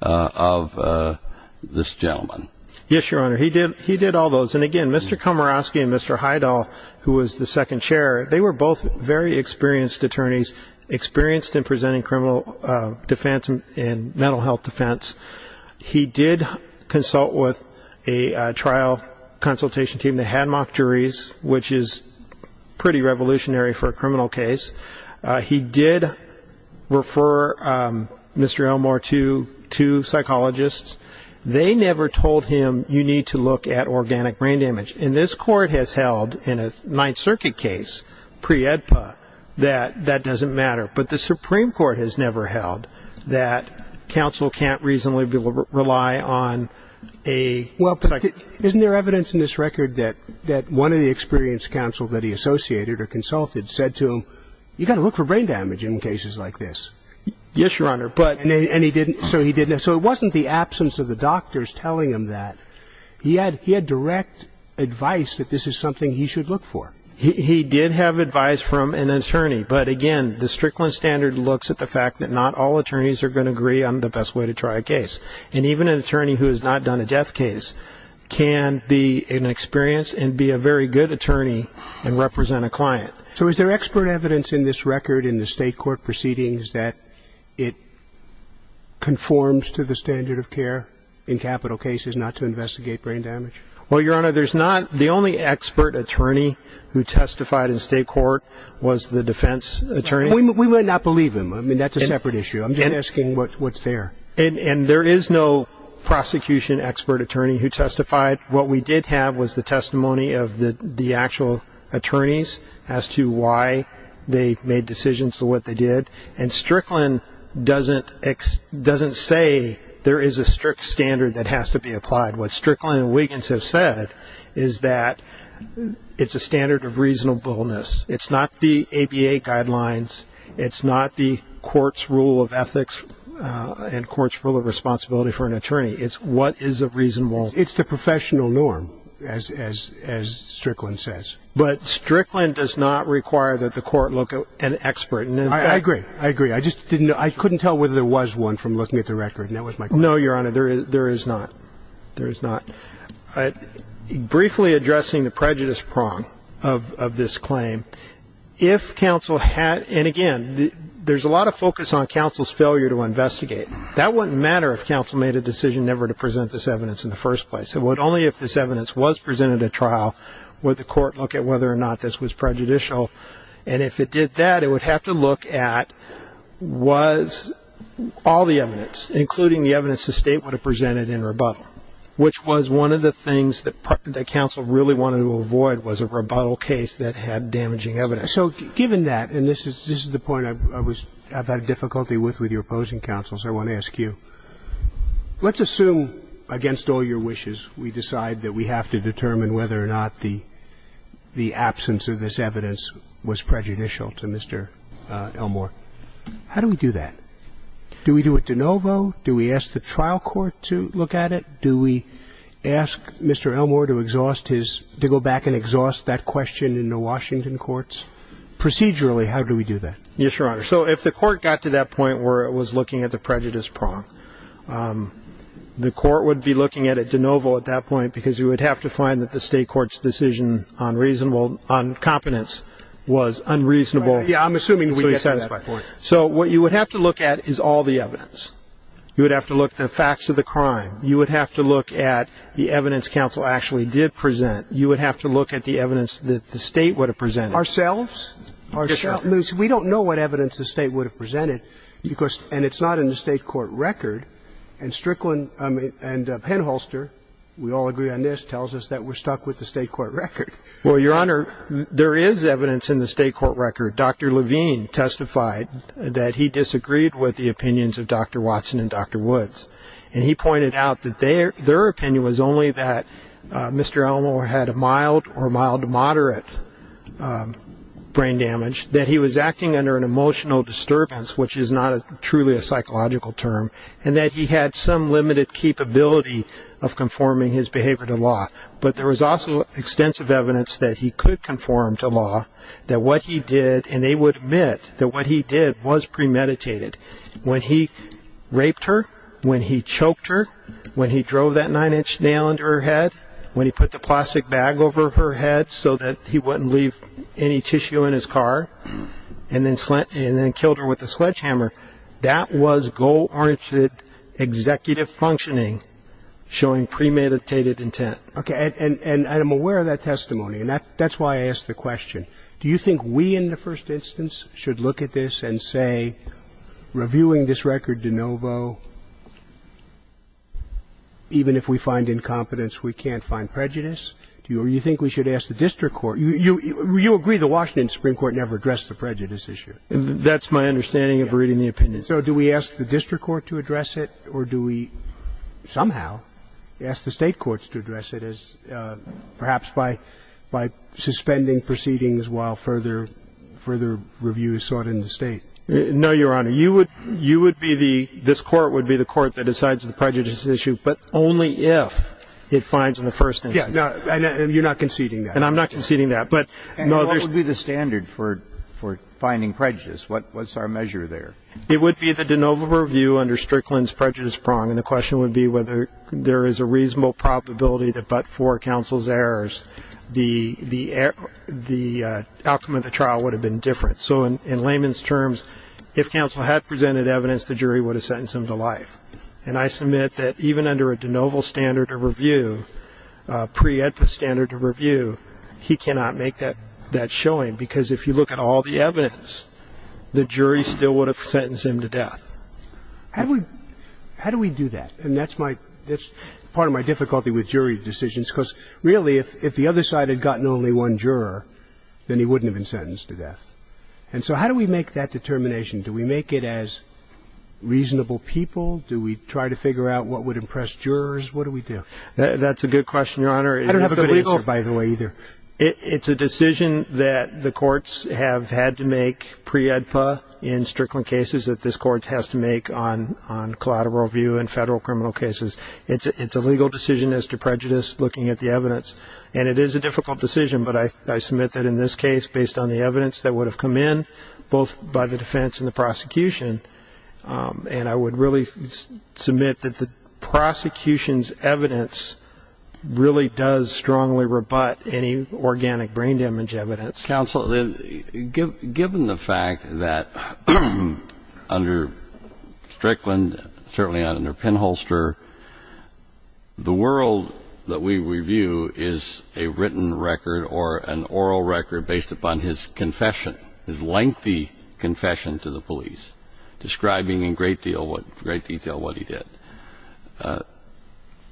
of this gentleman? Yes, Your Honor, he did all those. And again, Mr. Komoroske and Mr. Heidel, who was the second chair, they were both very experienced attorneys, experienced in presenting criminal defense and mental health defense. He did consult with a trial consultation team that had mock juries, which is pretty revolutionary for a criminal case. He did refer Mr. Elmore to two psychologists. They never told him, you need to look at organic brain damage. And this court has held, in a Ninth Circuit case, pre-EDPA, that that doesn't matter. But the Supreme Court has never held that counsel can't reasonably rely on a psychologist. Isn't there evidence in this record that one of the experienced counsel that he associated or consulted said to him, you've got to look for brain damage in cases like this? Yes, Your Honor. So it wasn't the absence of the doctors telling him that. He had direct advice that this is something he should look for. He did have advice from an attorney. But again, the Strickland standard looks at the fact that not all attorneys are going to agree on the best way to try a case. And even an attorney who has not done a death case can be an experienced and be a very good attorney and represent a client. So is there expert evidence in this record in the state court proceedings that it conforms to the standard of care in capital cases not to investigate brain damage? Well, Your Honor, there's not. The only expert attorney who testified in state court was the defense attorney. We would not believe him. That's a separate issue. I'm just asking what's there. And there is no prosecution expert attorney who testified. What we did have was the testimony of the actual attorneys as to why they made decisions to what they did. And Strickland doesn't say there is a strict standard that has to be applied. What Strickland and Wiggins have said is that it's a standard of reasonableness. It's not the ABA guidelines. It's not the court's rule of ethics and court's rule of responsibility for an attorney. It's what is a reasonable. It's the professional norm, as Strickland says. But Strickland does not require that the court look at an expert. And in fact, I agree. I just didn't know. I couldn't tell whether there was one from looking at the record. And that was my question. No, Your Honor, there is not. There is not. Briefly addressing the prejudice prong of this claim, if counsel had, and again, there's a lot of focus on counsel's failure to investigate. That wouldn't matter if counsel made a decision never to present this evidence in the first place. Only if this evidence was presented at trial would the court look at whether or not this was prejudicial. And if it did that, it would have to look at was all the evidence, including the evidence the state would have presented in rebuttal, which was one of the things that counsel really wanted to avoid was a rebuttal case that had damaging evidence. So given that, and this is the point I've had difficulty with with your opposing counsel, so I want to ask you, let's assume against all your wishes we decide that we have to determine whether or not the absence of this evidence was prejudicial to Mr. Elmore. How do we do that? Do we do it de novo? Do we ask the trial court to look at it? Do we ask Mr. Elmore to go back and exhaust that question in the Washington courts? Procedurally, how do we do that? Yes, Your Honor. So if the court got to that point where it was looking at the prejudice prong, the court would be looking at it de novo at that point because you would have to find that the state court's decision on competence was unreasonable. Yeah, I'm assuming we get to that point. So what you would have to look at is all the evidence. You would have to look at the facts of the crime. You would have to look at the evidence counsel actually did present. You would have to look at the evidence that the state would have presented. Ourselves? Ourselves. We don't know what evidence the state would have presented, and it's not in the state court record. And Strickland and Penholster, we all agree on this, tells us that we're stuck with the state court record. Well, Your Honor, there is evidence in the state court record. Dr. Levine testified that he disagreed with the opinions of Dr. Watson and Dr. Woods. And he pointed out that their opinion was only that Mr. Elmore had a mild or mild to moderate brain damage, that he was acting under an emotional disturbance, which is not truly a psychological term, and that he had some limited capability of conforming his behavior to law. But there was also extensive evidence that he could conform to law, that what he did, and they would admit that what he did was premeditated. When he raped her, when he choked her, when he drove that nine-inch nail into her head, when he put the plastic bag over her head so that he wouldn't leave any tissue in his car, and then killed her with a sledgehammer, that was goal-oriented executive functioning showing premeditated intent. OK, and I'm aware of that testimony, and that's why I asked the question. Do you think we, in the first instance, should look at this and say, reviewing this record de novo, even if we find incompetence, we can't find prejudice? Or do you think we should ask the district court? You agree the Washington Supreme Court never addressed the prejudice issue. That's my understanding of reading the opinion. So do we ask the district court to address it, or do we somehow ask the state courts to address it, as perhaps by suspending proceedings while further review is sought in the state? No, Your Honor. This court would be the court that decides the prejudice issue, but only if it finds in the first instance. And you're not conceding that. And I'm not conceding that. And what would be the standard for finding prejudice? What's our measure there? It would be the de novo review under Strickland's prejudice prong, and the question would be whether there is a reasonable probability that but for counsel's errors, the outcome of the trial would have been different. So in layman's terms, if counsel had presented evidence, the jury would have sentenced him to life. And I submit that even under a de novo standard of review, pre-EDPA standard of review, he cannot make that showing. Because if you look at all the evidence, the jury still would have sentenced him to death. How do we do that? And that's part of my difficulty with jury decisions. Because really, if the other side had gotten only one juror, then he wouldn't have been sentenced to death. And so how do we make that determination? Do we make it as reasonable people? Do we try to figure out what would impress jurors? What do we do? That's a good question, Your Honor. I don't have a good answer, by the way, either. It's a decision that the courts have had to make pre-EDPA in Strickland cases that this court has to make on collateral review in federal criminal cases. It's a legal decision as to prejudice looking at the evidence. And it is a difficult decision. But I submit that in this case, based on the evidence that would have come in, both by the defense and the prosecution, and I would really submit that the prosecution's evidence really does strongly rebut any organic brain damage evidence. Counsel, given the fact that under Strickland, certainly under Penholster, the world that we review is a written record or an oral record based upon his confession, his lengthy confession to the police, describing in great detail what he did.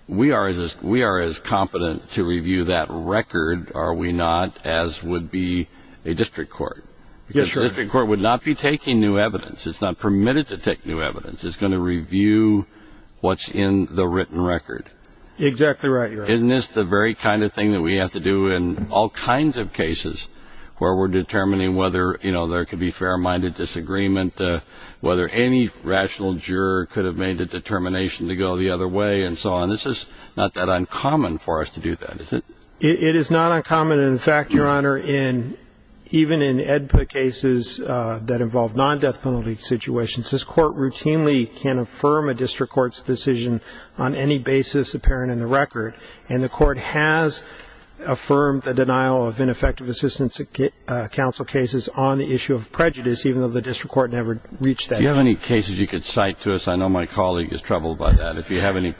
We are as competent to review that record, are we not, as would be a district court. Because a district court would not be taking new evidence. It's not permitted to take new evidence. It's going to review what's in the written record. Exactly right, Your Honor. Isn't this the very kind of thing that we have to do in all kinds of cases where we're determining whether there could be fair-minded disagreement, whether any rational juror could have made a determination to go the other way, and so on. This is not that uncommon for us to do that, is it? It is not uncommon. And in fact, Your Honor, even in EDPA cases that involve non-death penalty situations, this court routinely can affirm a district court's decision on any basis apparent in the record. And the court has affirmed the denial of ineffective assistance counsel cases on the issue of prejudice, even though the district court never reached that issue. Do you have any cases you could cite to us? I know my colleague is troubled by that. If you have any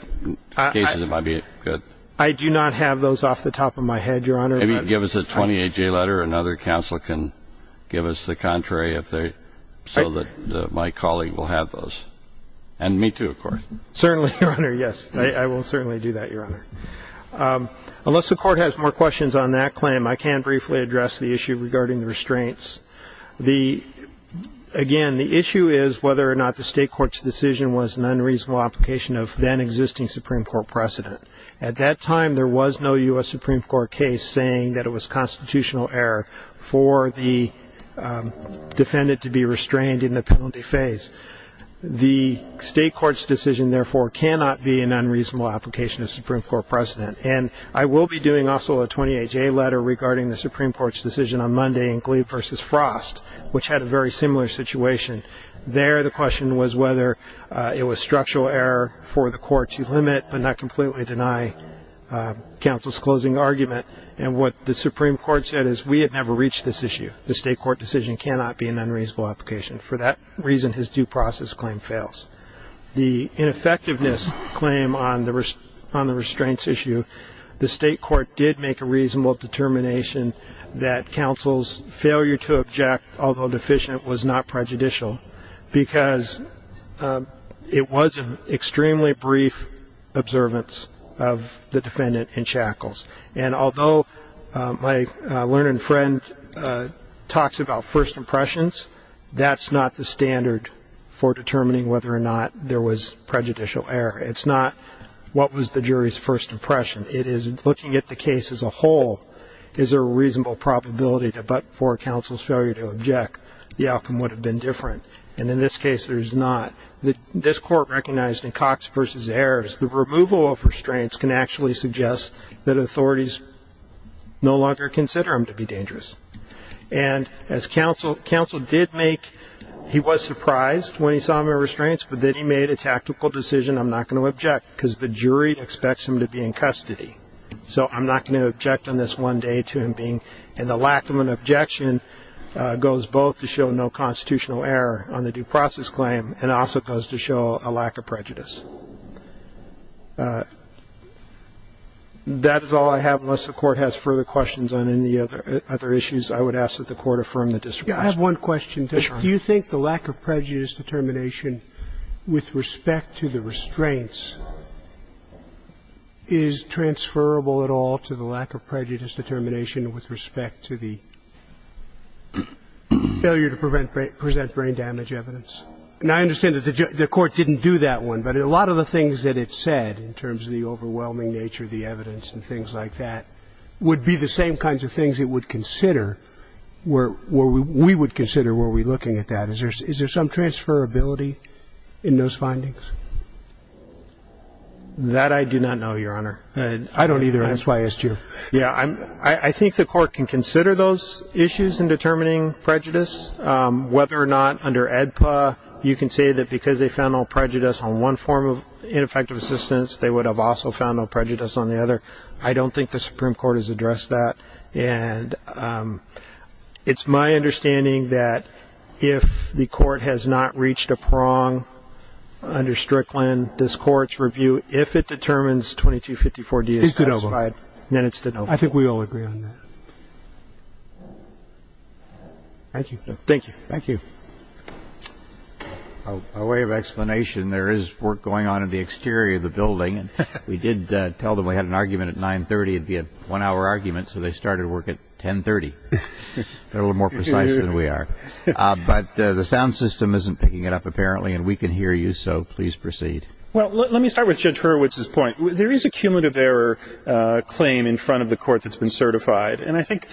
cases, it might be good. I do not have those off the top of my head, Your Honor. Maybe give us a 20-AJ letter. Another counsel can give us the contrary, so that my colleague will have those. And me, too, of course. Certainly, Your Honor, yes. I will certainly do that, Your Honor. Unless the court has more questions on that claim, I can briefly address the issue regarding the restraints. Again, the issue is whether or not the state court's decision was an unreasonable application of then-existing Supreme Court precedent. At that time, there was no US Supreme Court case saying that it was constitutional error for the defendant to be restrained in the penalty phase. The state court's decision, therefore, cannot be an unreasonable application of Supreme Court precedent. And I will be doing, also, a 20-AJ letter regarding the Supreme Court's decision on Monday in Glee versus Frost, which had a very similar situation. There, the question was whether it was structural error for the court to limit, but not completely deny, counsel's closing argument. And what the Supreme Court said is, we had never reached this issue. The state court decision cannot be an unreasonable application. For that reason, his due process claim fails. The ineffectiveness claim on the restraints issue, the state court did make a reasonable determination that counsel's failure to object, although deficient, was not prejudicial, because it was an extremely brief observance of the defendant in shackles. And although my learned friend talks about first impressions, that's not the standard for determining whether or not there was prejudicial error. It's not, what was the jury's first impression? It is, looking at the case as a whole, is there a reasonable probability that for counsel's failure to object, the outcome would have been different? And in this case, there is not. This court recognized in Cox versus Ayers, the removal of restraints can actually suggest that authorities no longer consider him to be dangerous. And as counsel did make, he was surprised when he saw the restraints, but then he made a tactical decision, I'm not going to object, because the jury expects him to be in custody. So I'm not going to object on this one day to him being, and the lack of an objection goes both to show no constitutional error on the due process claim, and also goes to show a lack of prejudice. That is all I have. Unless the Court has further questions on any other issues, I would ask that the Court affirm the district's position. Yeah. I have one question. Do you think the lack of prejudice determination with respect to the restraints is transferable at all to the lack of prejudice determination with respect to the failure to present brain damage evidence? And I understand that the Court didn't do that one, but a lot of the things that it said in terms of the overwhelming nature of the evidence and things like that would be the same kinds of things it would consider, we would consider were we looking at that. Is there some transferability in those findings? That I do not know, Your Honor. I don't either, and that's why I asked you. I think the Court can consider those issues in determining prejudice. Whether or not under AEDPA, you can say that because they found no prejudice on one form of ineffective assistance, they would have also found no prejudice on the other. I don't think the Supreme Court has addressed that. And it's my understanding that if the Court has not reached a prong under Strickland, this Court's review, if it determines 2254-D is satisfied, then it's de novo. I think we all agree on that. Thank you. Thank you. Thank you. A way of explanation, there is work going on in the exterior of the building. We did tell them we had an argument at 930. It'd be a one-hour argument, so they started work at 1030. They're a little more precise than we are. But the sound system isn't picking it up, apparently, and we can hear you, so please proceed. Well, let me start with Judge Hurwitz's point. There is a cumulative error claim in front of the Court that's been certified. And I think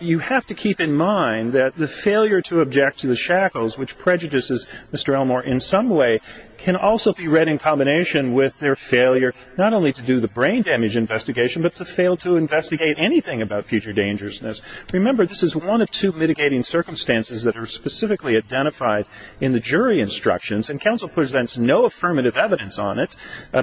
you have to keep in mind that the failure to object to the shackles, which prejudices Mr. Elmore in some way, can also be read in combination with their failure not only to do the brain damage investigation, but to fail to investigate anything about future dangerousness. Remember, this is one of two mitigating circumstances that are specifically identified in the jury instructions. And counsel presents no affirmative evidence on it,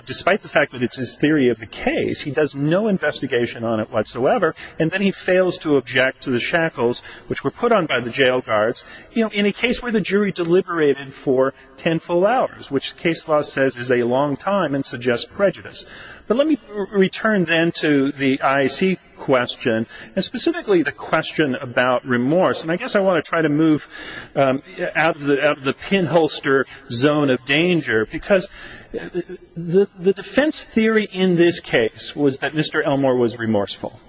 despite the fact that it's his theory of the case. He does no investigation on it whatsoever, and then he fails to object to the shackles, which were put on by the jail guards, in a case where the jury deliberated for ten full hours, which case law says is a long time and suggests prejudice. But let me return then to the IAC question, and specifically the question about remorse. And I guess I want to try to move out of the pinholster zone of danger, because the defense theory in this case was that Mr. Elmore was remorseful.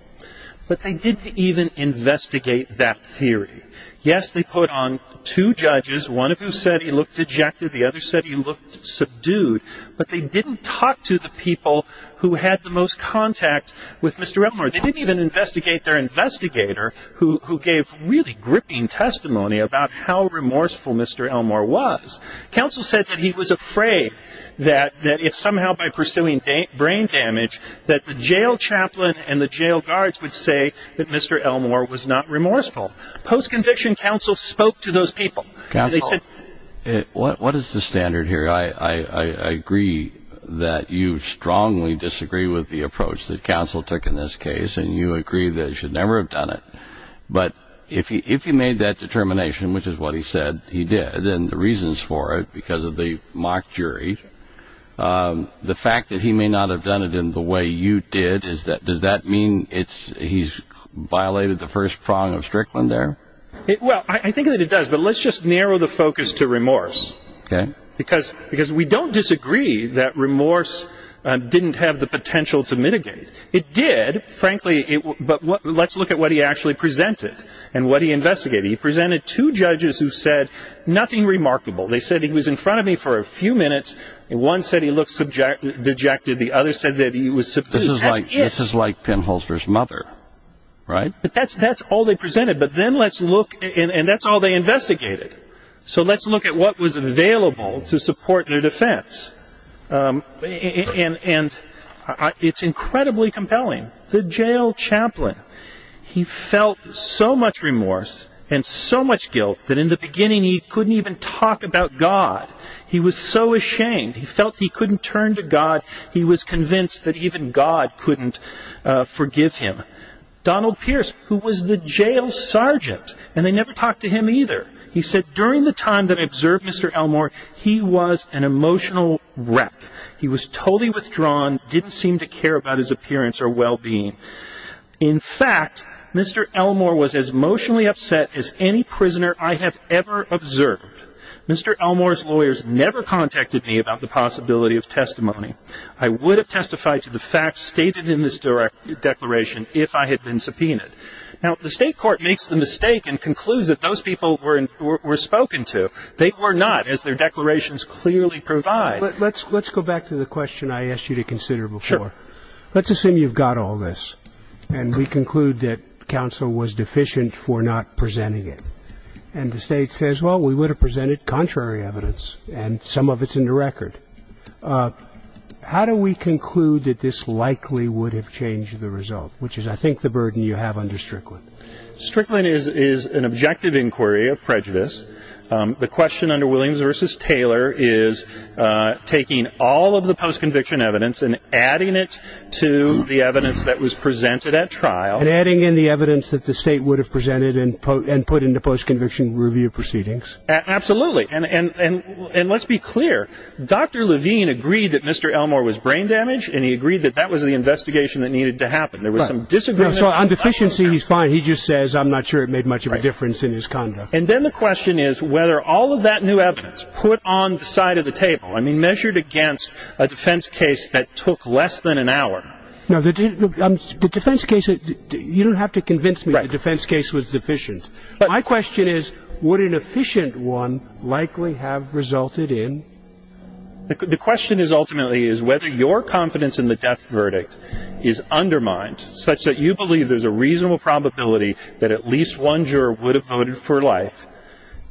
But they didn't even investigate that theory. Yes, they put on two judges, one of whom said he looked dejected, the other said he looked subdued. But they didn't talk to the people who had the most contact with Mr. Elmore. They didn't even investigate their investigator, who gave really gripping testimony about how remorseful Mr. Elmore was. Counsel said that he was afraid that if somehow by pursuing brain damage, that the jail chaplain and the jail guards would say that Mr. Elmore was not remorseful. Post-conviction, counsel spoke to those people. Counsel, what is the standard here? I agree that you strongly disagree with the approach that counsel took in this case. And you agree that he should never have done it. But if he made that determination, which is what he said he did, and the reasons for it because of the mock jury, the fact that he may not have done it in the way you did, does that mean he's violated the first prong of Strickland there? Well, I think that it does. But let's just narrow the focus to remorse. Because we don't disagree that remorse didn't have the potential to mitigate. It did, frankly. But let's look at what he actually presented and what he investigated. He presented two judges who said nothing remarkable. They said he was in front of me for a few minutes. One said he looked dejected. The other said that he was subdued. That's it. This is like pinholster's mother, right? That's all they presented. But then let's look. And that's all they investigated. So let's look at what was available to support their defense. And it's incredibly compelling. The jail chaplain, he felt so much remorse and so much guilt that in the beginning, he couldn't even talk about God. He was so ashamed. He felt he couldn't turn to God. He was convinced that even God couldn't forgive him. Donald Pierce, who was the jail sergeant, and they never talked to him either. He said, during the time that I observed Mr. Elmore, he was an emotional wreck. He was totally withdrawn, didn't seem to care about his appearance or well-being. In fact, Mr. Elmore was as emotionally upset as any prisoner I have ever observed. Mr. Elmore's lawyers never contacted me about the possibility of testimony. I would have testified to the facts stated in this declaration if I had been subpoenaed. Now, the state court makes the mistake and concludes that those people were spoken to. They were not, as their declarations clearly provide. Let's go back to the question I asked you to consider before. Let's assume you've got all this. And we conclude that counsel was deficient for not presenting it. And the state says, well, we would have presented contrary evidence. And some of it's in the record. How do we conclude that this likely would have changed the result, which is, I think, the burden you have under Strickland? Strickland is an objective inquiry of prejudice. The question under Williams v. Taylor is taking all of the post-conviction evidence and adding it to the evidence that was presented at trial. And adding in the evidence that the state would have presented and put into post-conviction review proceedings. Absolutely. And let's be clear. Dr. Levine agreed that Mr. Elmore was brain damaged. And he agreed that that was the investigation that needed to happen. There was some disagreement. On deficiency, he's fine. He just says, I'm not sure it made much of a difference in his conduct. And then the question is whether all of that new evidence put on the side of the table, I mean, measured against a defense case that took less than an hour. No, the defense case, you don't have to convince me the defense case was deficient. My question is, would an efficient one likely have resulted in? The question is ultimately, is whether your confidence in the death verdict is undermined such that you believe there's a reasonable probability that at least one juror would have voted for life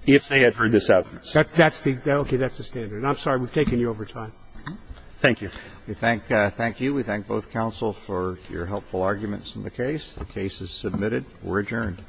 if they had heard this evidence. That's the standard. I'm sorry we've taken you over time. Thank you. Thank you. We thank both counsel for your helpful arguments in the case. The case is submitted. We're adjourned.